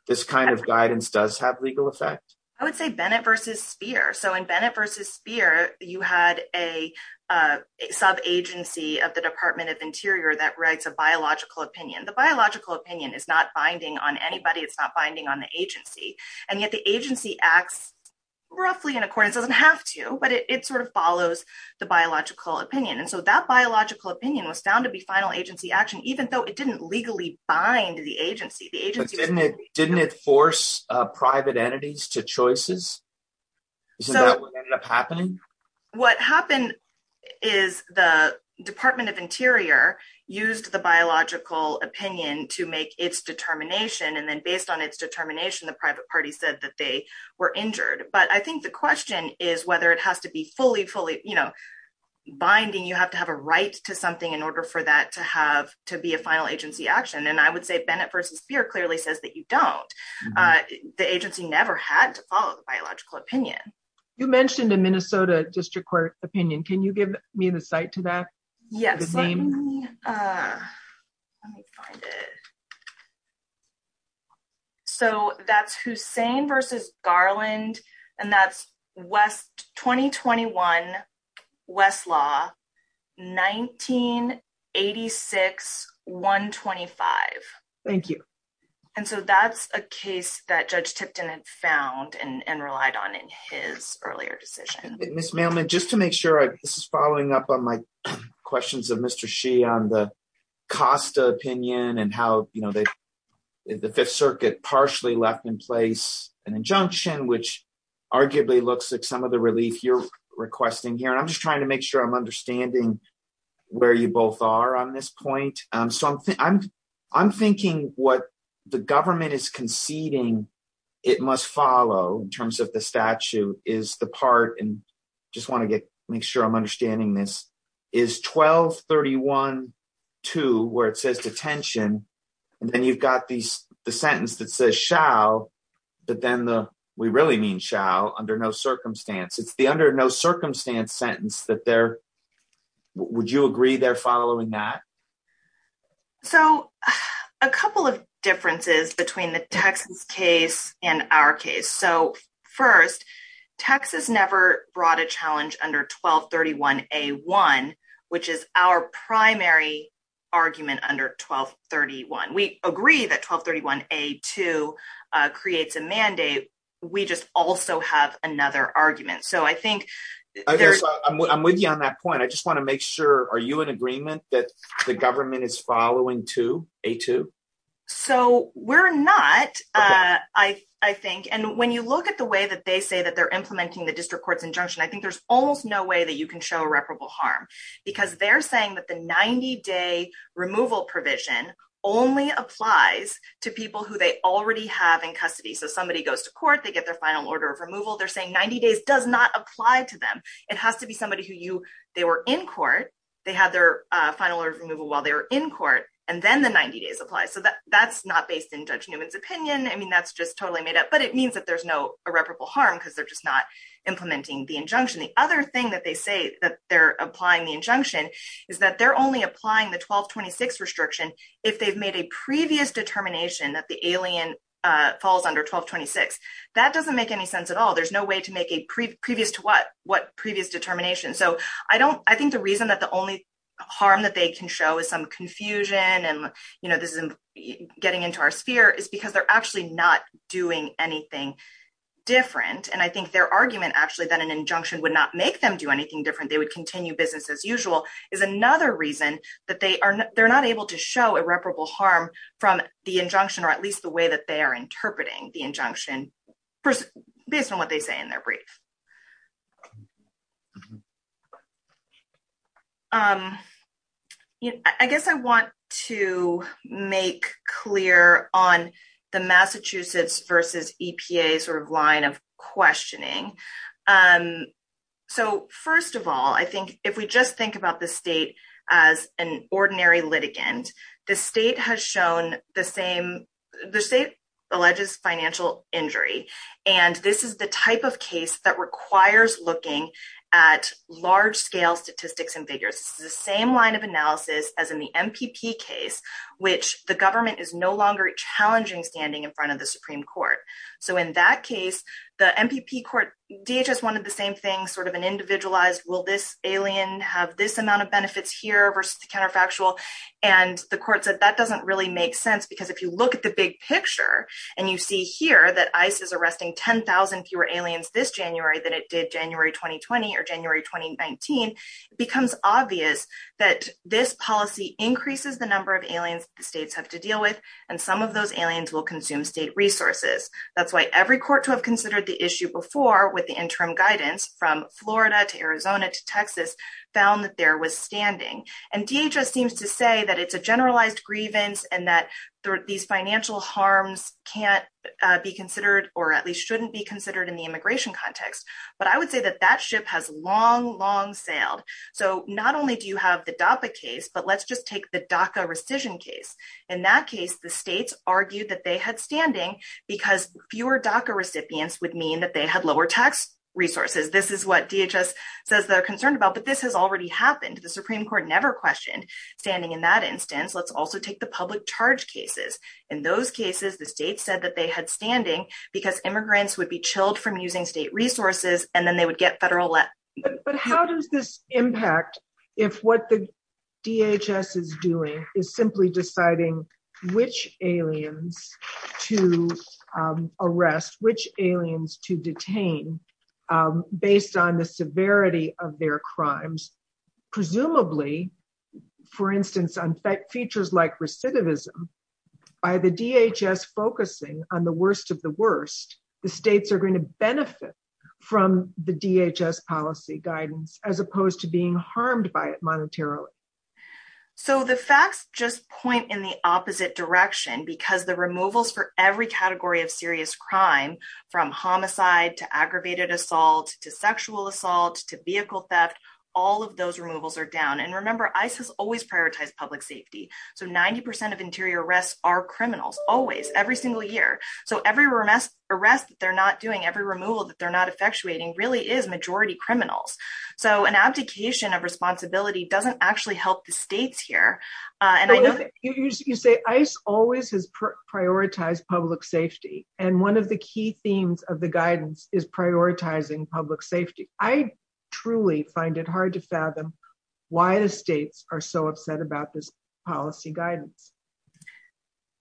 this kind of guidance does have effect i would say bennett versus spear so in bennett versus spear you had a uh sub agency of the department of interior that writes a biological opinion the biological opinion is not binding on anybody it's not binding on the agency and yet the agency acts roughly in accordance doesn't have to but it sort of follows the biological opinion and so that biological opinion was found to be final agency action even though it didn't legally bind the agency the to choices isn't that what ended up happening what happened is the department of interior used the biological opinion to make its determination and then based on its determination the private party said that they were injured but i think the question is whether it has to be fully fully you know binding you have to have a right to something in order for that to have to be a final agency action and i would say bennett versus spear clearly says that you don't uh the agency never had to follow the biological opinion you mentioned in minnesota district court opinion can you give me the site to that yes let me uh let me find it so that's hussein versus garland and that's west 2021 west law 1986 125 thank you and so that's a case that judge tipton had found and relied on in his earlier decision miss mailman just to make sure this is following up on my questions of mr she on the costa opinion and how you know they the fifth circuit partially left in place an injunction which arguably looks like some of the relief you're requesting here and i'm just trying to make sure i'm understanding where you both are on this point um so i'm i'm thinking what the government is conceding it must follow in terms of the statute is the part and just want to get make sure i'm understanding this is 12 31 2 where it says detention and then you've got these the sentence that says shall but then the we really mean shall under no circumstance it's the under no circumstance sentence that there would you agree they're following that so a couple of differences between the texas case and our case so first texas never brought a challenge under 12 31 a 1 which is our primary argument under 12 31 we agree that 12 31 a 2 creates a mandate we just also have another argument so i think i'm with you on that point i just want to make sure are you in agreement that the government is following to a2 so we're not uh i i think and when you look at the way that they say that they're implementing the district court's injunction i think there's almost no way that you can show irreparable harm because they're saying that the 90 day removal provision only applies to people who they already have in custody so somebody goes to court they get their final order of removal they're saying 90 days does not apply to them it has to be somebody who you they were in court they had their uh final order of removal while they were in court and then the 90 days apply so that that's not based in judge newman's opinion i mean that's just totally made up but it means that there's no irreparable harm because they're just not implementing the injunction the other thing that they say that they're applying the injunction is that they're only applying the 1226 restriction if they've made a previous determination that the alien uh falls under 1226 that doesn't make any sense at all there's no way to make a previous to what what previous determination so i don't i think the reason that the only harm that they can show is some confusion and you know this isn't getting into our sphere is because they're actually not doing anything different and i think their argument actually that an injunction would not make them do anything different they would continue businesses usual is another reason that they are they're not able to show irreparable harm from the injunction or at least the way that they are interpreting the injunction based on what they say in their brief um i guess i want to make clear on the massachusetts versus epa sort of line of about the state as an ordinary litigant the state has shown the same the state alleges financial injury and this is the type of case that requires looking at large-scale statistics and figures this is the same line of analysis as in the mpp case which the government is no longer challenging standing in front of the supreme court so in that case the mpp court dhs an individualized will this alien have this amount of benefits here versus the counterfactual and the court said that doesn't really make sense because if you look at the big picture and you see here that ice is arresting 10 000 fewer aliens this january than it did january 2020 or january 2019 it becomes obvious that this policy increases the number of aliens the states have to deal with and some of those aliens will consume state resources that's why every court to issue before with the interim guidance from florida to arizona to texas found that there was standing and dhs seems to say that it's a generalized grievance and that these financial harms can't be considered or at least shouldn't be considered in the immigration context but i would say that that ship has long long sailed so not only do you have the dapa case but let's just take the daca rescission case in that case the states argued that they had standing because fewer daca recipients would mean that they had lower tax resources this is what dhs says they're concerned about but this has already happened the supreme court never questioned standing in that instance let's also take the public charge cases in those cases the state said that they had standing because immigrants would be chilled from using state resources and then they would get federal let but how does this impact if what the dhs is doing is simply deciding which aliens to arrest which aliens to detain based on the severity of their crimes presumably for instance on features like recidivism by the dhs focusing on the worst of the worst the states are going to benefit from the dhs policy guidance as opposed to being harmed by every category of serious crime from homicide to aggravated assault to sexual assault to vehicle theft all of those removals are down and remember ice has always prioritized public safety so 90 percent of interior arrests are criminals always every single year so every remiss arrest that they're not doing every removal that they're not effectuating really is majority criminals so an abdication of responsibility doesn't actually help the states here and i know you say ice always has prioritized public safety and one of the key themes of the guidance is prioritizing public safety i truly find it hard to fathom why the states are so upset about this policy guidance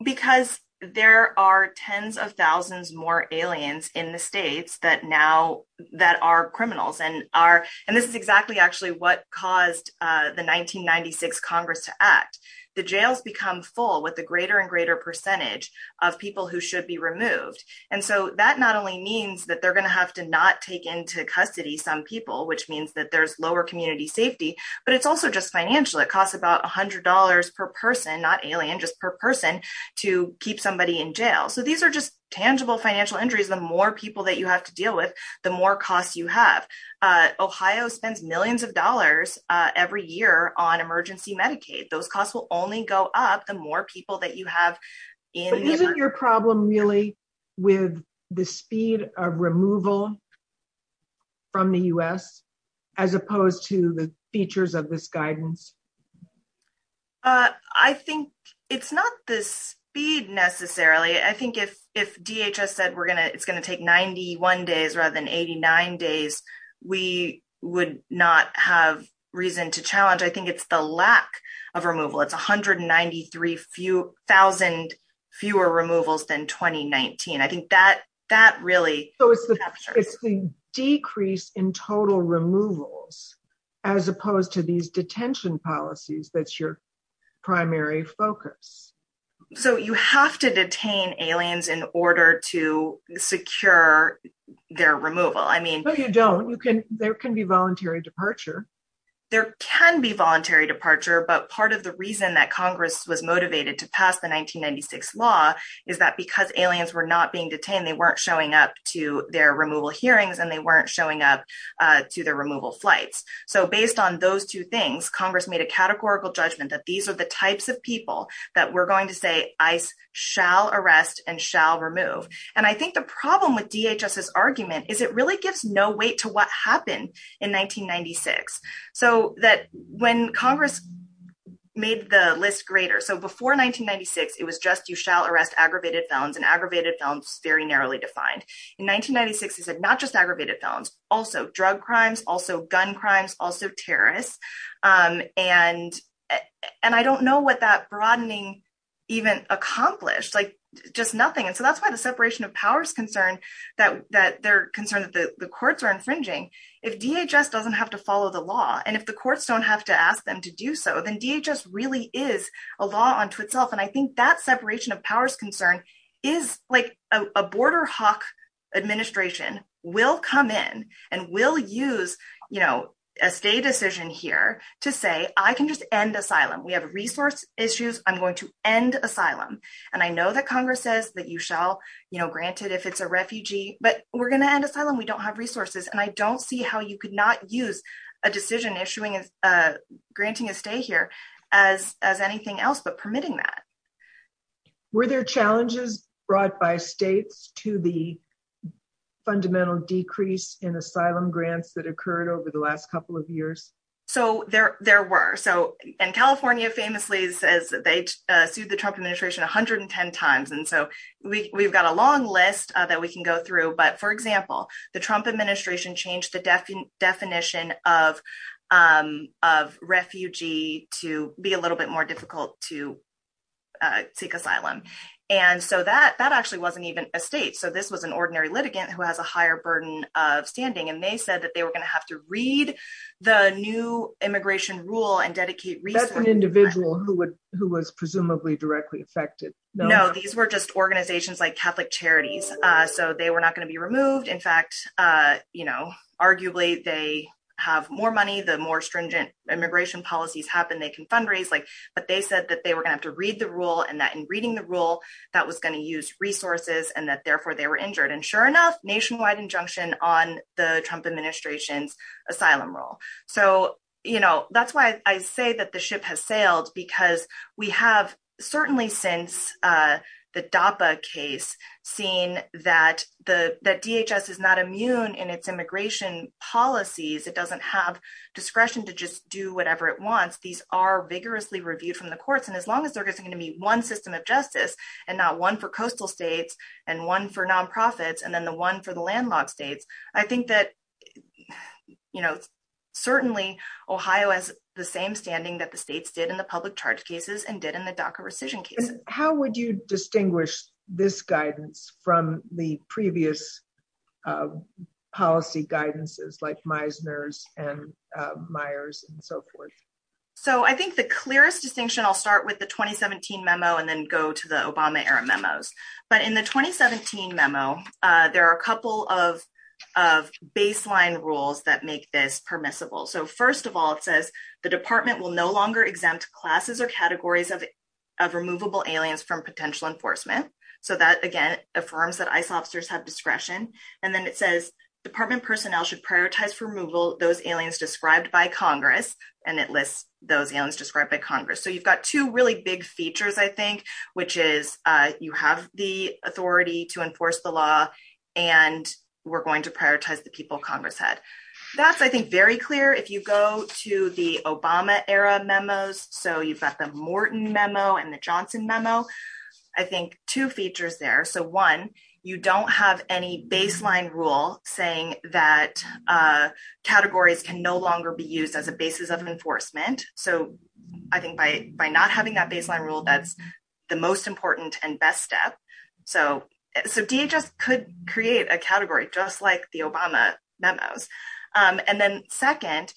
because there are tens of thousands more aliens in the states that now that are criminals and are and this is exactly actually what caused uh the 1996 congress to act the jails become full with the greater and greater percentage of people who should be removed and so that not only means that they're going to have to not take into custody some people which means that there's lower community safety but it's also just financial it costs about a hundred dollars per person not alien just per person to keep somebody in jail so these are just tangible financial injuries the more people that you have to deal with the more costs you have uh ohio spends millions of dollars uh on emergency medicaid those costs will only go up the more people that you have in isn't your problem really with the speed of removal from the u.s as opposed to the features of this guidance uh i think it's not the speed necessarily i think if if dhs said we're days we would not have reason to challenge i think it's the lack of removal it's 193 few thousand fewer removals than 2019 i think that that really so it's the it's the decrease in total removals as opposed to these detention policies that's your primary focus so you have to detain aliens in order to secure their removal i mean no you don't you can there can be voluntary there can be voluntary departure but part of the reason that congress was motivated to pass the 1996 law is that because aliens were not being detained they weren't showing up to their removal hearings and they weren't showing up uh to their removal flights so based on those two things congress made a categorical judgment that these are the types of people that we're going to say shall arrest and shall remove and i think the problem with dhs's argument is it really gives no weight to what happened in 1996 so that when congress made the list greater so before 1996 it was just you shall arrest aggravated felons and aggravated felons very narrowly defined in 1996 he said not just aggravated felons also drug crimes also gun crimes also terrorists um and and i don't know what that broadening even accomplished like just nothing and so that's why the separation of powers concern that that they're concerned that the courts are infringing if dhs doesn't have to follow the law and if the courts don't have to ask them to do so then dhs really is a law unto itself and i think that separation of powers concern is like a border hawk administration will come in and will use you know a state decision here to say i can just end asylum we have resource issues i'm going to end asylum and i know that congress says that you shall you know grant it if it's a refugee but we're going to end asylum we don't have resources and i don't see how you could not use a decision issuing uh granting a stay here as as anything else but permitting that were there challenges brought by states to the fundamental decrease in asylum grants that occurred over the last couple of years so there there were so and california famously says they sued the trump administration 110 times and so we we've got a long list that we can go through but for example the trump administration changed the definition of um of refugee to be a little bit more difficult to uh take asylum and so that that actually wasn't even a state so this was an ordinary litigant who has a higher burden of standing and they said that they were going to have to read the new immigration rule and dedicate research an individual who would who was presumably directly affected no these were just organizations like catholic charities uh so they were not going to be removed in fact uh you know arguably they have more money the more stringent immigration policies happen they can fundraise like but they said that they were gonna have to read the rule and that in reading the rule that was going to use resources and that therefore they were injured and sure enough nationwide injunction on the trump administration's asylum role so you know that's why i say that the ship has sailed because we have certainly since uh the dapa case seen that the that dhs is not immune in its immigration policies it doesn't have discretion to just do whatever it wants these are vigorously reviewed from the courts and as long as they're going to meet one system of justice and not one for coastal states and one for non-profits and then the one for the landlocked states i think that you know certainly ohio has the same standing that the states did in the public charge cases and did in the docker rescission case how would you distinguish this guidance from the previous policy guidances like meisner's and meyers and so forth so i think the clearest distinction i'll start with the 2017 memo and then go to the obama era memos but in the 2017 memo uh there are a rules that make this permissible so first of all it says the department will no longer exempt classes or categories of of removable aliens from potential enforcement so that again affirms that ice officers have discretion and then it says department personnel should prioritize for removal those aliens described by congress and it lists those aliens described by congress so you've got two really big features i think which is uh you have the authority to enforce the law and we're going to prioritize the people congress had that's i think very clear if you go to the obama era memos so you've got the morton memo and the johnson memo i think two features there so one you don't have any baseline rule saying that uh categories can no longer be used as a basis of enforcement so i think by by not having that baseline rule that's the most important and best step so so dhs could create a category just like the obama memos and then second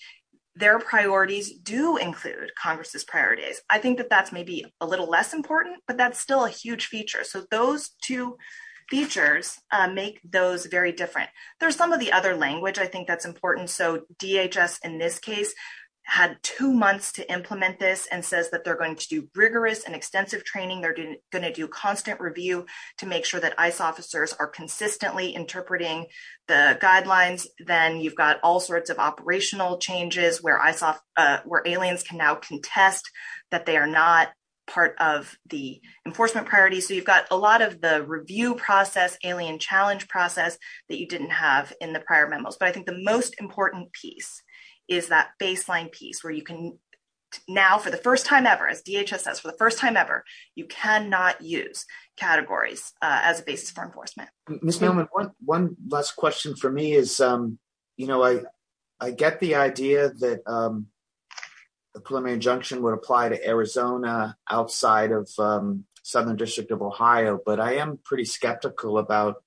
their priorities do include congress's priorities i think that that's maybe a little less important but that's still a huge feature so those two features make those very different there's some of the other language i think that's important so dhs in this case had two months to implement this and says that they're going to do rigorous and extensive training they're going to do constant review to make sure that ice officers are consistently interpreting the guidelines then you've got all sorts of operational changes where i saw uh where aliens can now contest that they are not part of the enforcement priorities so you've got a lot of the review process alien challenge process that you didn't have in the prior memos but i think the most important piece is that baseline piece where you can now for the first time ever as dhs says for the first time ever you cannot use categories as a basis for enforcement miss mailman one one last question for me is um you know i i get the idea that um the preliminary injunction would apply to arizona outside of um southern district of ohio but i am pretty skeptical about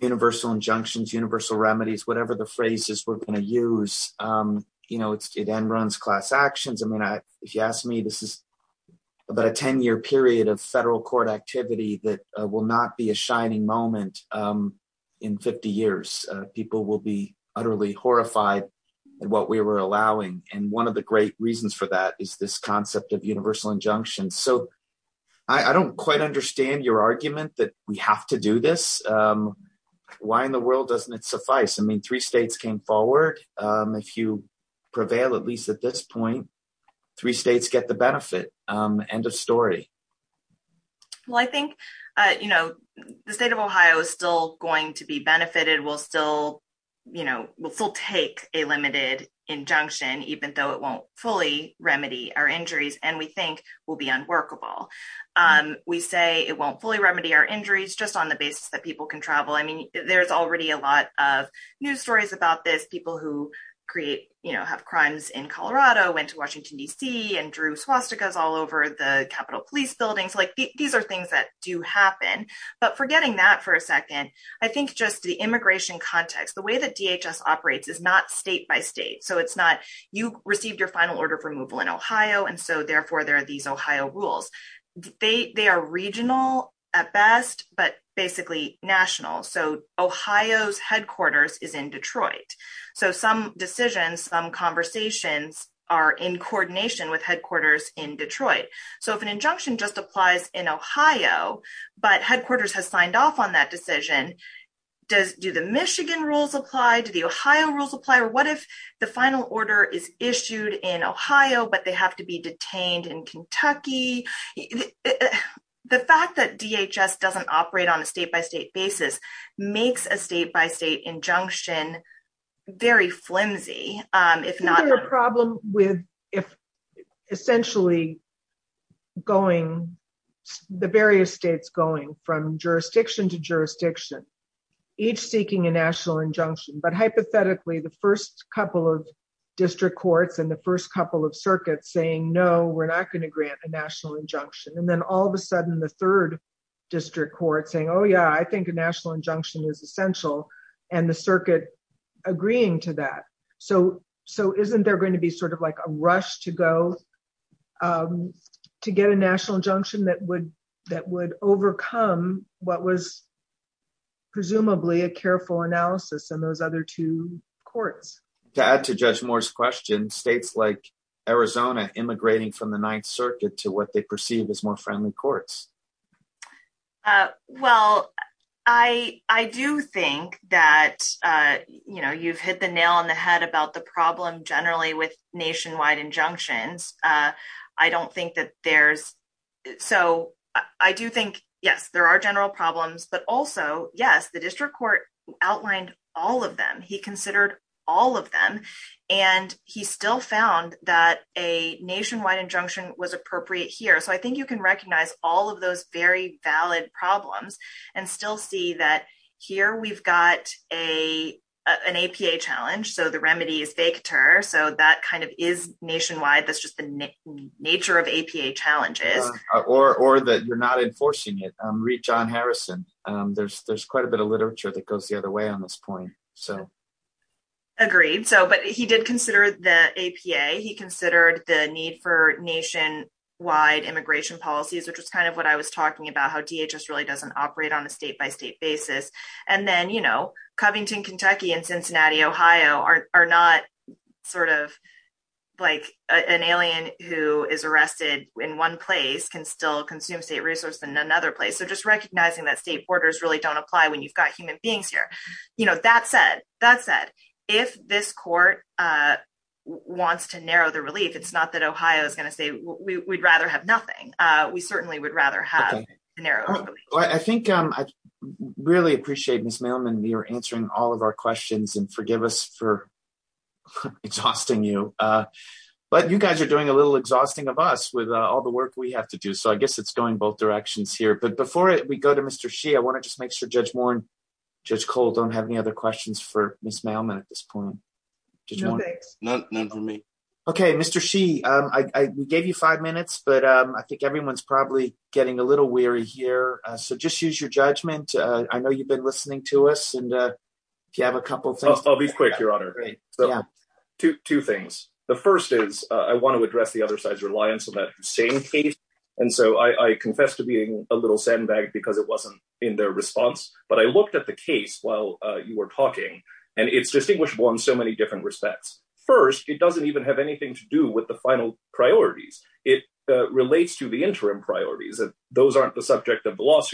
universal injunctions universal remedies whatever the phrase is we're going to use um you know it's it end runs class actions i mean i if you ask me this is about a 10-year period of federal court activity that will not be a shining moment um in 50 years people will be utterly horrified at what we were allowing and one of the great reasons for that is this concept of universal injunction so i i don't quite understand your argument that we have to do this um why in the world doesn't it suffice i mean three states came forward um if you prevail at least at this point three states get the benefit um end of story well i think uh you know the state of ohio is still going to be benefited we'll still you know we'll still take a limited injunction even though it won't fully remedy our injuries and we think will be unworkable um we say it won't fully our injuries just on the basis that people can travel i mean there's already a lot of news stories about this people who create you know have crimes in colorado went to washington dc and drew swastikas all over the capitol police buildings like these are things that do happen but forgetting that for a second i think just the immigration context the way that dhs operates is not state by state so it's not you received your final order of removal in ohio and so therefore there are these ohio rules they they are regional at best but basically national so ohio's headquarters is in detroit so some decisions some conversations are in coordination with headquarters in detroit so if an injunction just applies in ohio but headquarters has signed off on that decision does do the michigan rules apply to the ohio rules apply or what if the final order is issued in ohio but they have to be detained in kentucky the fact that dhs doesn't operate on a state-by-state basis makes a state-by-state injunction very flimsy um if not a problem with if essentially going the various states going from jurisdiction to jurisdiction each seeking a national injunction but hypothetically the first couple of district courts and the first couple of circuits saying no we're not going to grant a national injunction and then all of a sudden the third district court saying oh yeah i think a national injunction is essential and the circuit agreeing to that so so isn't there going to be sort of like a rush to go um to get a national injunction that would that would overcome what was presumably a careful analysis and those other two courts to add to judge moore's question states like arizona immigrating from the ninth circuit to what they perceive as more friendly courts uh well i i do think that uh you know you've hit the nail on the head about the problem generally with nationwide injunctions uh i don't think that there's so i do think yes there are general problems but also yes the district court outlined all of them he considered all of them and he still found that a nationwide injunction was appropriate here so i think you can recognize all of those very valid problems and still see that here we've got a an apa challenge so the so that kind of is nationwide that's just the nature of apa challenges or or that you're not enforcing it um reach on harrison um there's there's quite a bit of literature that goes the other way on this point so agreed so but he did consider the apa he considered the need for nationwide immigration policies which was kind of what i was talking about how dhs really doesn't operate on a state-by-state basis and then you know covington kentucky and cincinnati ohio are not sort of like an alien who is arrested in one place can still consume state resource in another place so just recognizing that state borders really don't apply when you've got human beings here you know that said that said if this court uh wants to narrow the relief it's not that ohio is going to say we'd rather have nothing uh we certainly would rather have a narrow i think um i exhausting you uh but you guys are doing a little exhausting of us with uh all the work we have to do so i guess it's going both directions here but before we go to mr she i want to just make sure judge mourne judge cole don't have any other questions for miss mailman at this point none for me okay mr she um i i gave you five minutes but um i think everyone's probably getting a little weary here so just use your judgment uh i know you've been listening to us and uh if you have a couple things i'll be quick your honor so two things the first is i want to address the other side's reliance on that same case and so i i confess to being a little sandbag because it wasn't in their response but i looked at the case while uh you were talking and it's distinguishable in so many different respects first it doesn't even have anything to do with the final priorities it relates to the interim priorities and those aren't the subject of the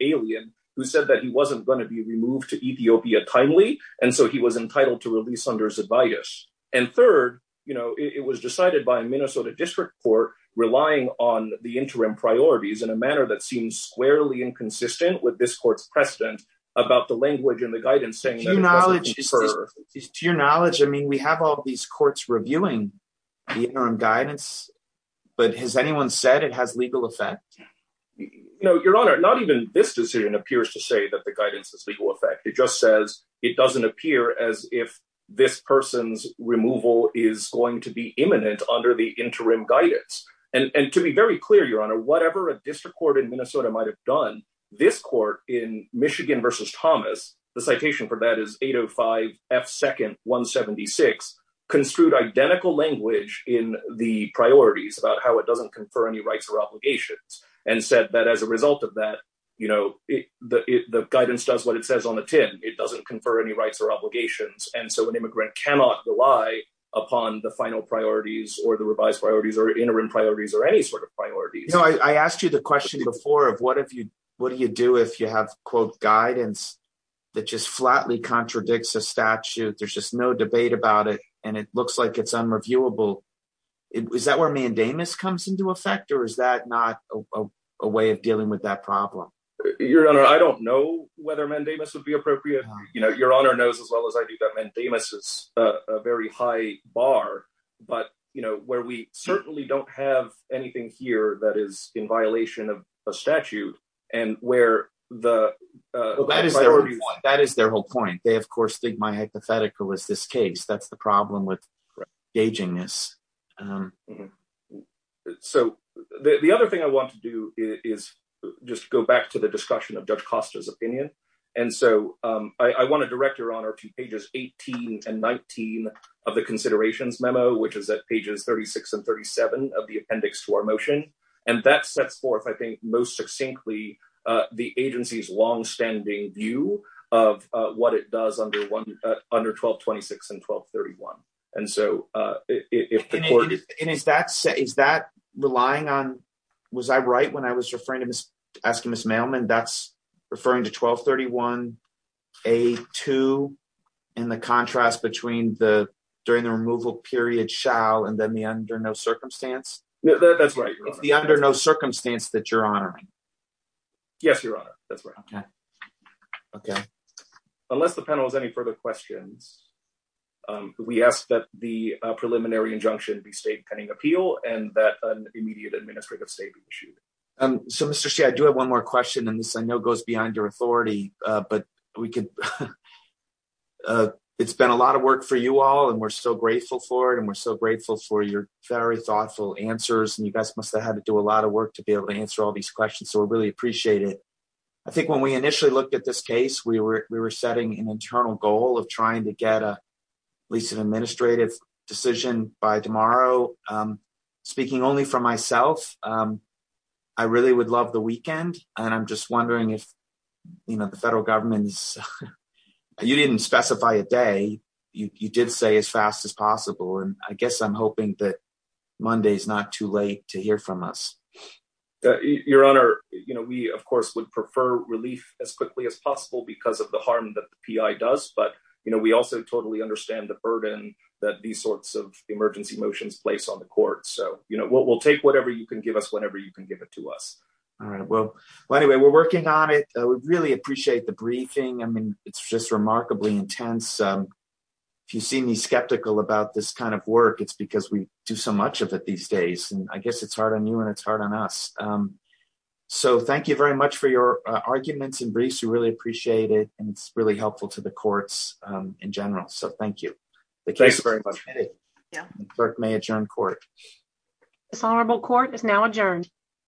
alien who said that he wasn't going to be removed to ethiopia timely and so he was entitled to release under his advice and third you know it was decided by a minnesota district court relying on the interim priorities in a manner that seems squarely inconsistent with this court's precedent about the language and the guidance saying to your knowledge i mean we have all these courts reviewing the interim guidance but has anyone said it has legal effect no your honor not even this decision appears to say that the guidance is legal effect it just says it doesn't appear as if this person's removal is going to be imminent under the interim guidance and and to be very clear your honor whatever a district court in minnesota might have done this court in michigan versus thomas the citation for that is 805 f second 176 construed identical language in the priorities about how it doesn't confer any rights or and said that as a result of that you know the the guidance does what it says on the tin it doesn't confer any rights or obligations and so an immigrant cannot rely upon the final priorities or the revised priorities or interim priorities or any sort of priorities i asked you the question before of what if you what do you do if you have quote guidance that just flatly contradicts a statute there's just no debate about it and it looks like it's unreviewable is that where comes into effect or is that not a way of dealing with that problem your honor i don't know whether mandamus would be appropriate you know your honor knows as well as i do that mandamus is a very high bar but you know where we certainly don't have anything here that is in violation of a statute and where the uh that is their whole point they of course think my hypothetical is that's the problem with gauging this um so the the other thing i want to do is just go back to the discussion of judge costa's opinion and so um i i want to direct your honor to pages 18 and 19 of the considerations memo which is at pages 36 and 37 of the appendix to our motion and that sets forth i think most succinctly uh the agency's long-standing view of uh what it does under one under 12 26 and 12 31 and so uh if the court and is that say is that relying on was i right when i was referring to miss asking miss mailman that's referring to 12 31 a 2 and the contrast between the during the removal period shall and then the under no circumstance that's right it's the under no circumstance that you're honoring yes your honor that's right okay okay unless the panel has any further questions um we ask that the preliminary injunction be state pending appeal and that an immediate administrative state be issued um so mr c i do have one more question and this i know goes behind your authority uh but we can uh it's been a lot of work for you all and we're so grateful for it and we're so grateful for your very thoughtful answers and you guys must have had to do a lot of work to be able to answer all these questions so we really appreciate it i think when we initially looked at this case we were we were setting an internal goal of trying to get a lease of administrative decision by tomorrow um speaking only for myself um i really would love the weekend and i'm just wondering if you know the federal government's you didn't specify a day you you did say as fast as possible and i guess i'm hoping that to hear from us your honor you know we of course would prefer relief as quickly as possible because of the harm that the pi does but you know we also totally understand the burden that these sorts of emergency motions place on the court so you know we'll take whatever you can give us whenever you can give it to us all right well well anyway we're working on it we really appreciate the briefing i mean it's just remarkably intense um if you see me skeptical about this kind of work it's because we do so much of it these days and i guess it's hard on you and it's hard on us um so thank you very much for your arguments and briefs we really appreciate it and it's really helpful to the courts um in general so thank you thanks very much yeah clerk may adjourn court dishonorable court is now adjourned